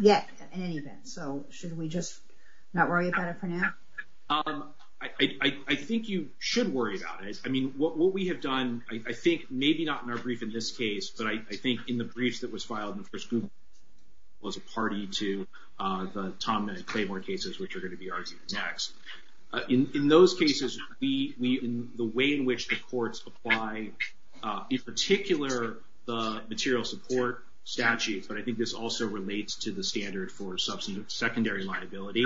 Yet, at any event. So should we just not worry about it for now? I think you should worry about it. I mean, what we have done, I think maybe not in our brief in this case, but I think in the brief that was filed in the first group was a party to the Tom and Claymore cases, which are going to be argued next. In those cases, the way in which the courts apply a particular material support statute, but I think this also relates to the standard for secondary liability,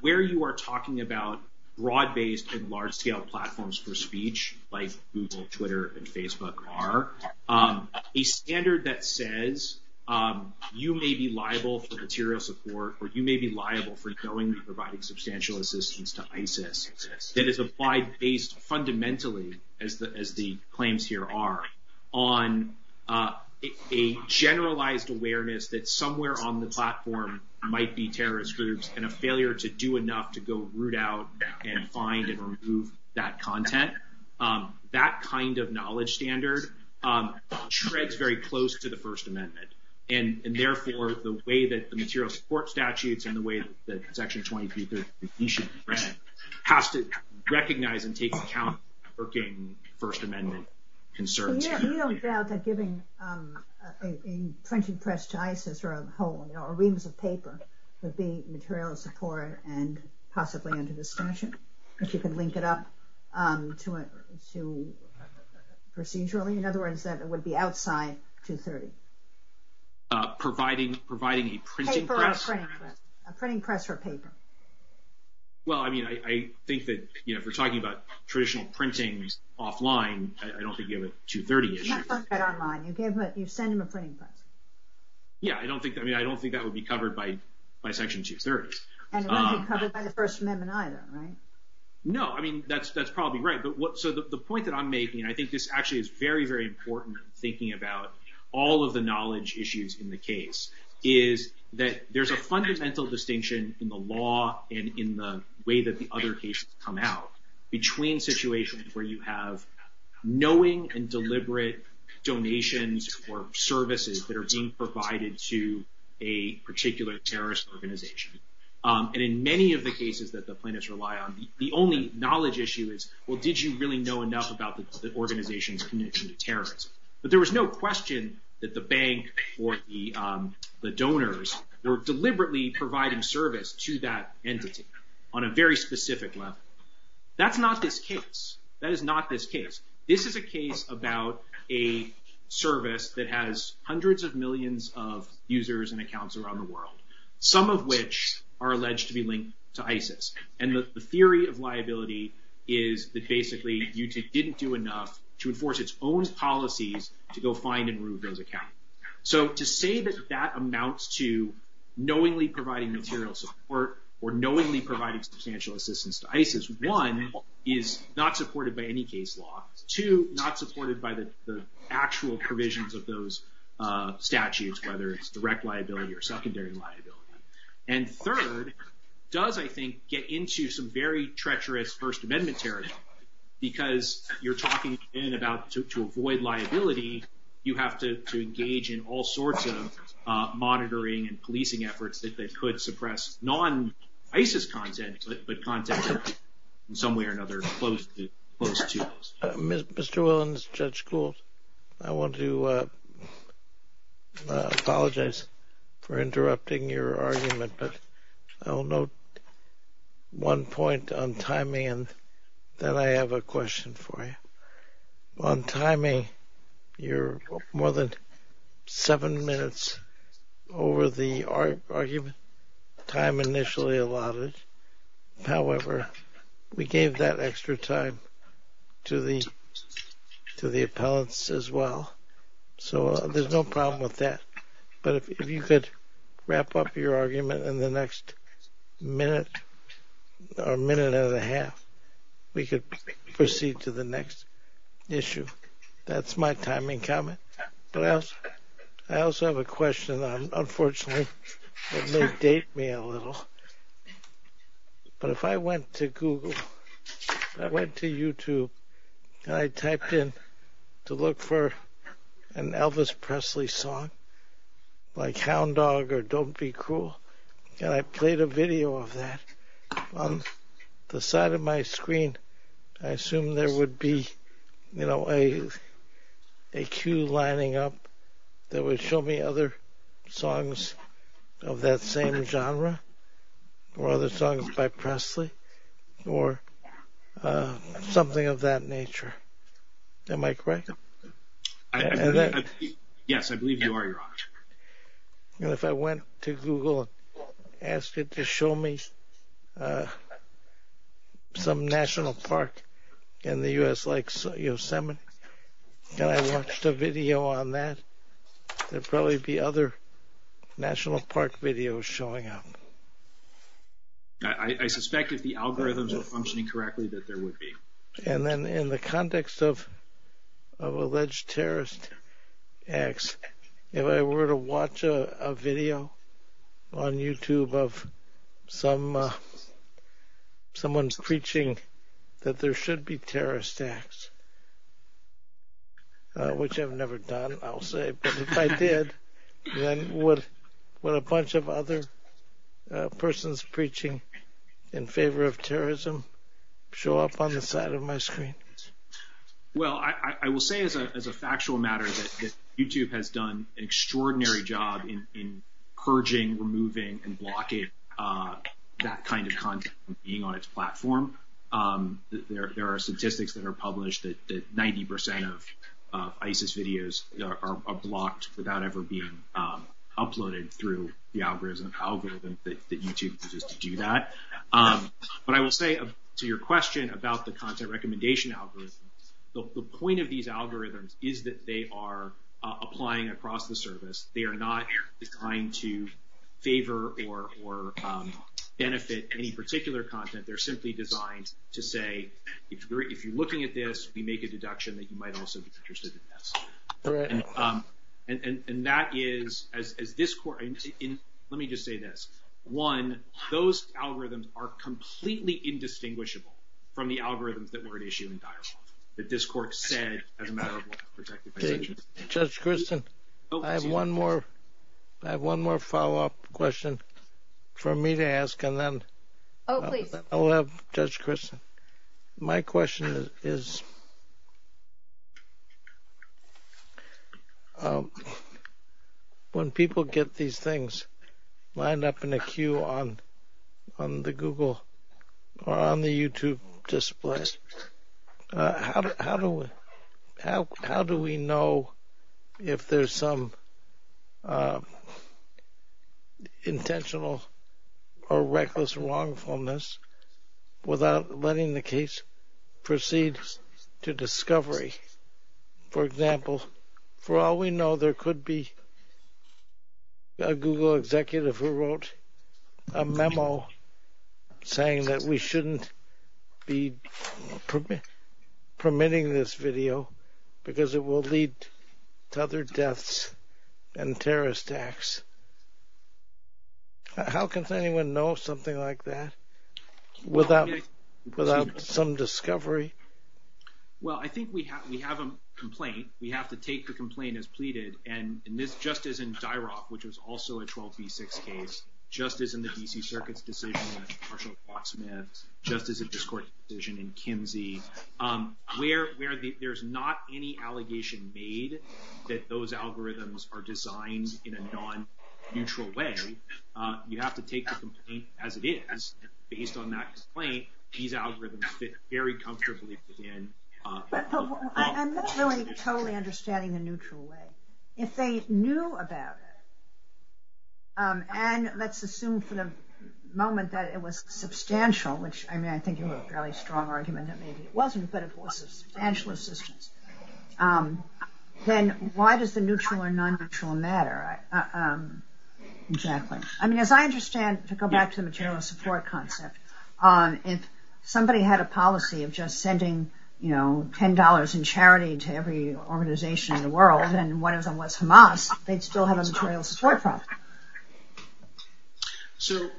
where you are talking about broad-based and large-scale platforms for speech like Google, Twitter, and Facebook are, a standard that says you may be liable for material support or you may be liable for knowing that you are providing substantial assistance to ISIS, that is applied based fundamentally, as the claims here are, on a generalized awareness that somewhere on the platform might be terrorist groups and a failure to do enough to go root out and find and remove that content. That kind of knowledge standard treads very close to the First Amendment. And therefore, the way that the material support statutes and the way that Section 23 has to recognize and take account for getting First Amendment concerns. We don't doubt that giving a printed press to ISIS or a whole ream of paper would be material support and possibly under discretion. You can link it up to procedurally. In other words, it would be outside 230. Providing a printing press. A printing press or paper. Well, I mean, I think that, you know, if we're talking about traditional printings offline, I don't think you have a 230 issue. You send them a printing press. Yeah, I mean, I don't think that would be covered by Section 230. And it wouldn't be covered by the First Amendment either, right? No, I mean, that's probably right. So the point that I'm making, I think this actually is very, very important in thinking about all of the knowledge issues in the case, is that there's a fundamental distinction in the law and in the way that the other cases come out between situations where you have knowing and deliberate donations or services that are being provided to a particular terrorist organization. And in many of the cases that the plaintiffs rely on, the only knowledge issue is, well, did you really know enough about the organization's connection to terrorism? But there was no question that the bank or the donors were deliberately providing service to that entity on a very specific level. That's not this case. That is not this case. This is a case about a service that has hundreds of millions of users and accounts around the world, some of which are alleged to be linked to ISIS. And the theory of liability is that basically you didn't do enough to enforce its own policies to go find and remove those accounts. So to say that that amounts to knowingly providing material support or knowingly providing substantial assistance to ISIS, one, is not supported by any case law. Two, not supported by the actual provisions of those statutes, whether it's direct liability or secondary liability. And third, does, I think, get into some very treacherous First Amendment terrorism because you're talking in about to avoid liability, you have to engage in all sorts of monitoring and policing efforts that could suppress non-ISIS content, but content in some way or another close to this. Mr. Williams, Judge School, I want to apologize for interrupting your argument, but I'll note one point on timing and then I have a question for you. On timing, you're more than seven minutes over the argument time initially allotted. However, we gave that extra time to the appellants as well. So there's no problem with that. But if you could wrap up your argument in the next minute or minute and a half, we could proceed to the next issue. That's my timing comment. I also have a question. Unfortunately, it may date me a little. But if I went to Google, I went to YouTube, and I typed in to look for an Elvis Presley song like Hound Dog or Don't Be Cruel, and I played a video of that, on the side of my screen, I assume there would be a queue lining up that would show me other songs of that same genre or other songs by Presley or something of that nature. Am I correct? Yes, I believe you are, Your Honor. If I went to Google and asked it to show me some national park in the U.S. like Yosemite, and I watched a video on that, there'd probably be other national park videos showing up. I suspect if the algorithms were functioning correctly that there would be. And then in the context of alleged terrorist acts, if I were to watch a video on YouTube of someone's preaching that there should be terrorist acts, which I've never done, I'll say, but if I did, then would a bunch of other persons preaching in favor of terrorism show up on the side of my screen? Well, I will say as a factual matter that YouTube has done an extraordinary job in purging, removing, and blocking that kind of content from being on its platform. There are statistics that are published that 90% of ISIS videos are blocked without ever being uploaded through the algorithms that YouTube uses to do that. But I will say to your question about the content recommendation algorithm, the point of these algorithms is that they are applying across the service. They are not trying to favor or benefit any particular content. They're simply designed to say, if you're looking at this, we make a deduction that you might also be interested in this. And that is, as this court, let me just say this. One, those algorithms are completely indistinguishable from the algorithms that were issued in Dar es Salaam that this court said, as a matter of law, protected by YouTube. Judge Christen, I have one more follow-up question for me to ask, and then I'll have Judge Christen. My question is, when people get these things lined up in a queue on the Google or on the YouTube displays, how do we know if there's some intentional or reckless wrongfulness without letting the case proceed to discovery? For example, for all we know, there could be a Google executive who wrote a memo saying that we shouldn't be permitting this video because it will lead to other deaths and terrorist acts. How can anyone know something like that without some discovery? Well, I think we have a complaint. We have to take the complaint as pleaded. And just as in Xiroc, which was also a 12b6 case, just as in the D.C. Circuit's decision in Marshall Fox Smith, just as in this court's decision in Kinsey, where there's not any allegation made that those algorithms are designed in a non-neutral way, you have to take the complaint as it is. Based on that complaint, these algorithms fit very comfortably within... I'm not really totally understanding the neutral way. If they knew about it, and let's assume for the moment that it was substantial, which I think you have a fairly strong argument that maybe it wasn't, but it was substantial assistance, then why does the neutral or non-neutral matter? Exactly. I mean, as I understand, to go back to the general support concept, if somebody had a policy of just sending $10 in charity to every organization in the world, and one of them was Hamas, they'd still have a material support process. So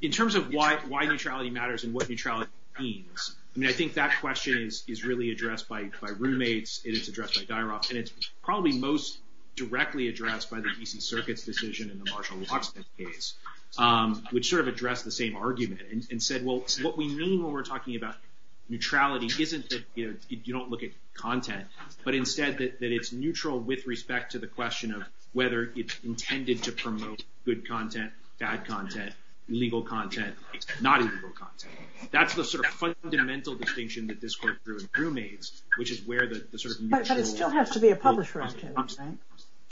in terms of why neutrality matters and what neutrality means, I mean, I think that question is really addressed by roommates. It is addressed by DIROP, and it's probably most directly addressed by the DC Circuit's decision in the Marshall-Waksman case, which sort of addressed the same argument and said, well, what we mean when we're talking about neutrality isn't that you don't look at content, but instead that it's neutral with respect to the question of whether it's intended to promote good content, bad content, illegal content, not illegal content. That's the sort of fundamental distinction that this court drew in roommates, which is where the sort of neutral- But it still has to be a publisher, right?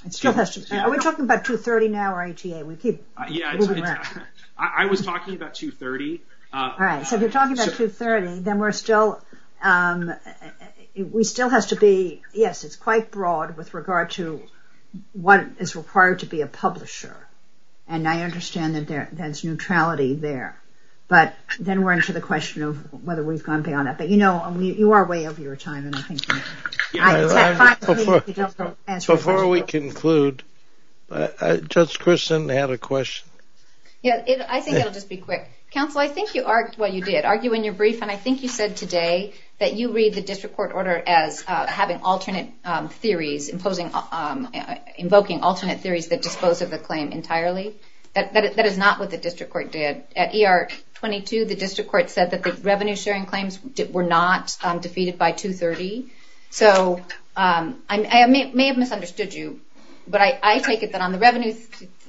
It still has to be. Are we talking about 230 now or ATA? We keep moving around. Yeah, I was talking about 230. All right. So if you're talking about 230, then we still have to be, yes, it's quite broad with regard to what is required to be a publisher. And I understand that there's neutrality there. But then we're into the question of whether we've gone beyond that. But you know, you are way over your time. And I think- Before we conclude, Judge Christin had a question. Yeah, I think I'll just be quick. Counsel, I think you argued what you did. Argued when you were briefed. And I think you said today that you read the district court order as having alternate theories, invoking alternate theories that disclose of a claim entirely. That is not what the district court did. At ER 22, the district court said that the revenue sharing claims were not defeated by 230. So I may have misunderstood you. But I take it that on the revenue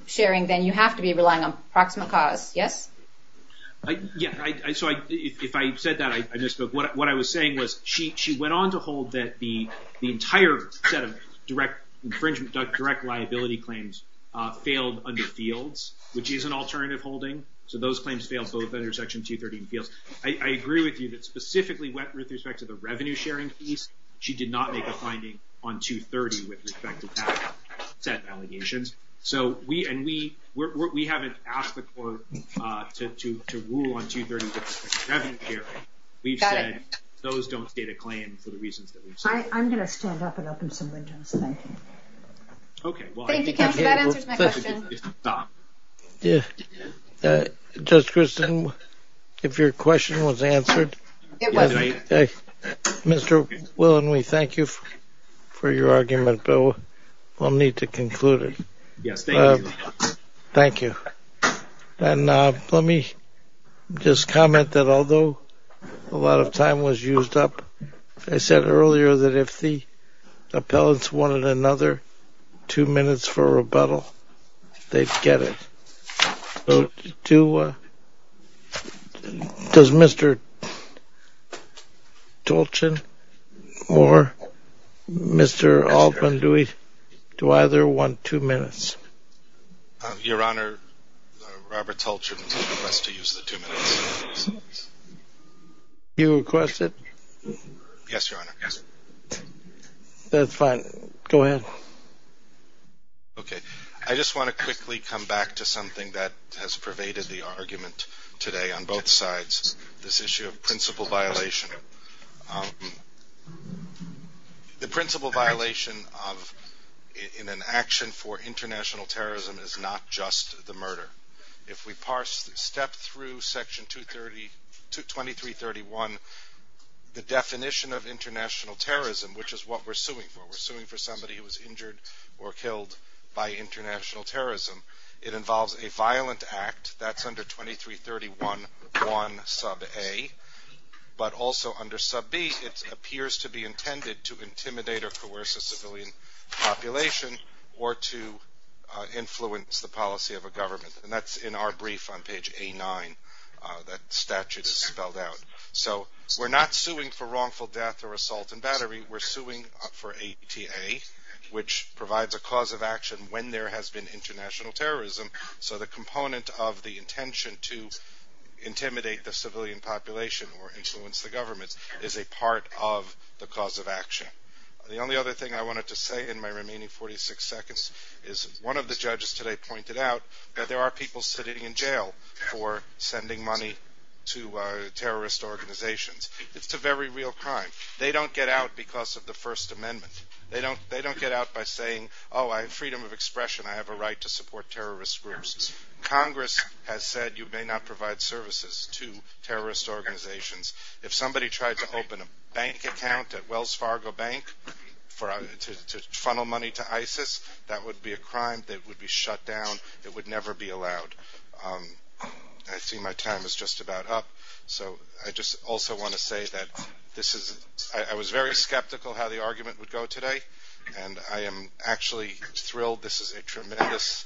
sharing, then you have to be relying on proximate cause. Yes? Yeah. So if I said that, I misspoke. What I was saying was she went on to hold that the entire set of direct infringement, direct liability claims failed under fields, which is an alternative holding. So those claims failed both under section 230 and fields. I agree with you that specifically with respect to the revenue sharing piece, she did not make a finding on 230 with respect to that set allegations. And we haven't asked the court to rule on 230 with respect to revenue sharing. We've said those don't state a claim for the reasons that we've said. I'm going to still wrap it up in summary, though. OK. Well, I think- Here's my question. Yeah. Judge Christin, if your question was answered, Mr. Willen, we thank you for your argument. But we'll need to conclude it. Thank you. And let me just comment that although a lot of time was used up, I said earlier that if the appellants wanted another two minutes for rebuttal, they'd get it. So does Mr. Tulchin or Mr. Altman, do we either want two minutes? Your Honor, Robert Tulchin wants to use the two minutes. You request it? Yes, Your Honor. That's fine. Go ahead. OK. I just want to quickly come back to something that has pervaded the argument today on both sides, this issue of principle violation. The principle violation in an action for international terrorism is not just the murder. If we step through Section 2331, the definition of international terrorism, which is what we're suing for, we're suing for somebody who was injured or killed by international terrorism, it involves a violent act. That's under 2331.1 sub A. But also under sub B, it appears to be intended to intimidate or coerce a civilian population or to influence the policy of a government. And that's in our brief on page A9. That statute is spelled out. So we're not suing for wrongful death or assault and battery. We're suing for ATA, which provides a cause of action when there has been international terrorism. So the component of the intention to intimidate the civilian population or influence the government is a part of the cause of action. The only other thing I wanted to say in my remaining 46 seconds is one of the judges today pointed out that there are people sitting in jail for sending money to terrorist organizations. It's a very real crime. They don't get out because of the First Amendment. They don't get out by saying, oh, freedom of expression, I have a right to support terrorist groups. Congress has said you may not provide services to terrorist organizations. If somebody tried to open a bank account at Wells Fargo Bank to funnel money to ISIS, that would be a crime that would be shut down. It would never be allowed. I see my time is just about up. So I just also want to say that I was very skeptical how the argument would go today, and I am actually thrilled. This is a tremendous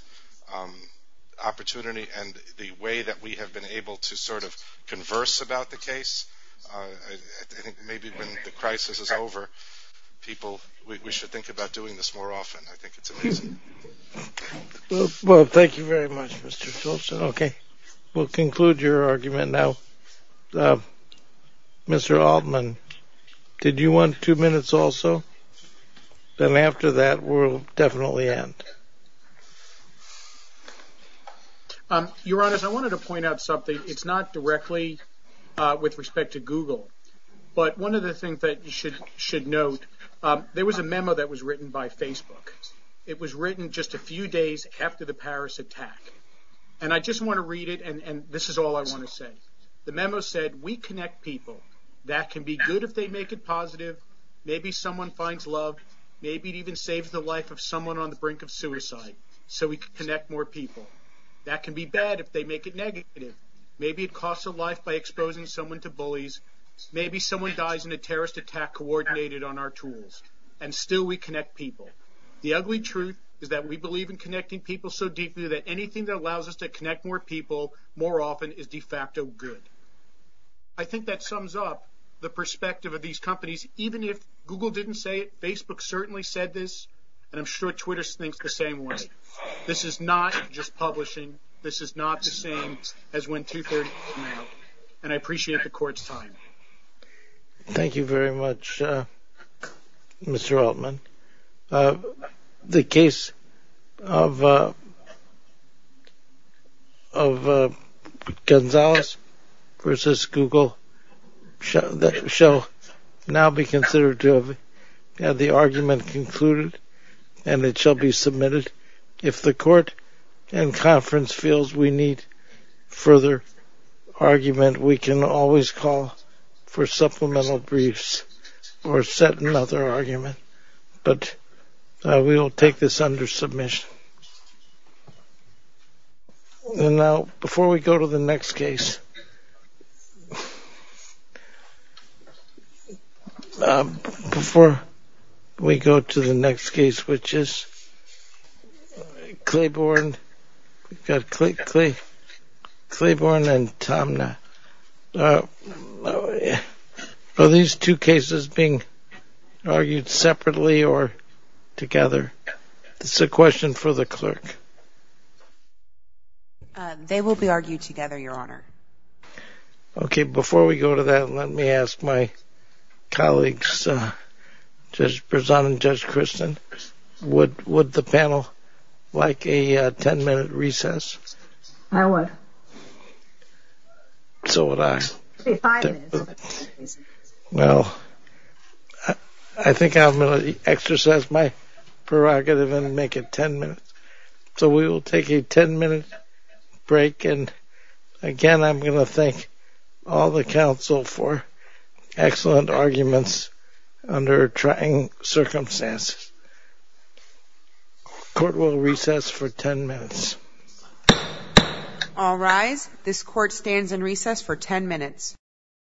opportunity, and the way that we have been able to sort of converse about the case, I think maybe when the crisis is over, people, we should think about doing this more often. Well, thank you very much, Mr. Phillipson. Okay, we'll conclude your argument now. Mr. Altman, did you want two minutes also? Then after that, we'll definitely end. Your Honors, I wanted to point out something. It's not directly with respect to Google, but one of the things that you should note, there was a memo that was written by Facebook. It was written just a few days after the Paris attack, and I just want to read it, and this is all I want to say. The memo said, we connect people. That can be good if they make it positive. Maybe someone finds love. Maybe it even saves the life of someone on the brink of suicide so we can connect more people. That can be bad if they make it negative. Maybe it costs a life by exposing someone to bullies. Maybe someone dies in a terrorist attack coordinated on our tools, and still we connect people. The ugly truth is that we believe in connecting people so deeply that anything that allows us to connect more people more often is de facto good. I think that sums up the perspective of these companies. Even if Google didn't say it, Facebook certainly said this, and I'm sure Twitter thinks the same way. This is not just publishing. This is not the same as when two-thirds came out, and I appreciate the court's time. Thank you very much, Mr. Altman. The case of Gonzalez versus Google shall now be considered to have the argument concluded and it shall be submitted. If the court and conference feels we need further argument, we can always call for supplemental briefs or set another argument, but we will take this under submission. Before we go to the next case, which is Claiborne and Tomna, are these two cases being argued separately or together? It's a question for the clerk. They will be argued together, Your Honor. Okay, before we go to that, let me ask my colleagues, Judge Berzon and Judge Christin, would the panel like a 10-minute recess? I would. So would I. No. I think I'm going to exercise my prerogative and make it 10 minutes. So we will take a 10-minute break, and again I'm going to thank all the counsel for excellent arguments under trying circumstances. Court will recess for 10 minutes. All rise. This court stands in recess for 10 minutes.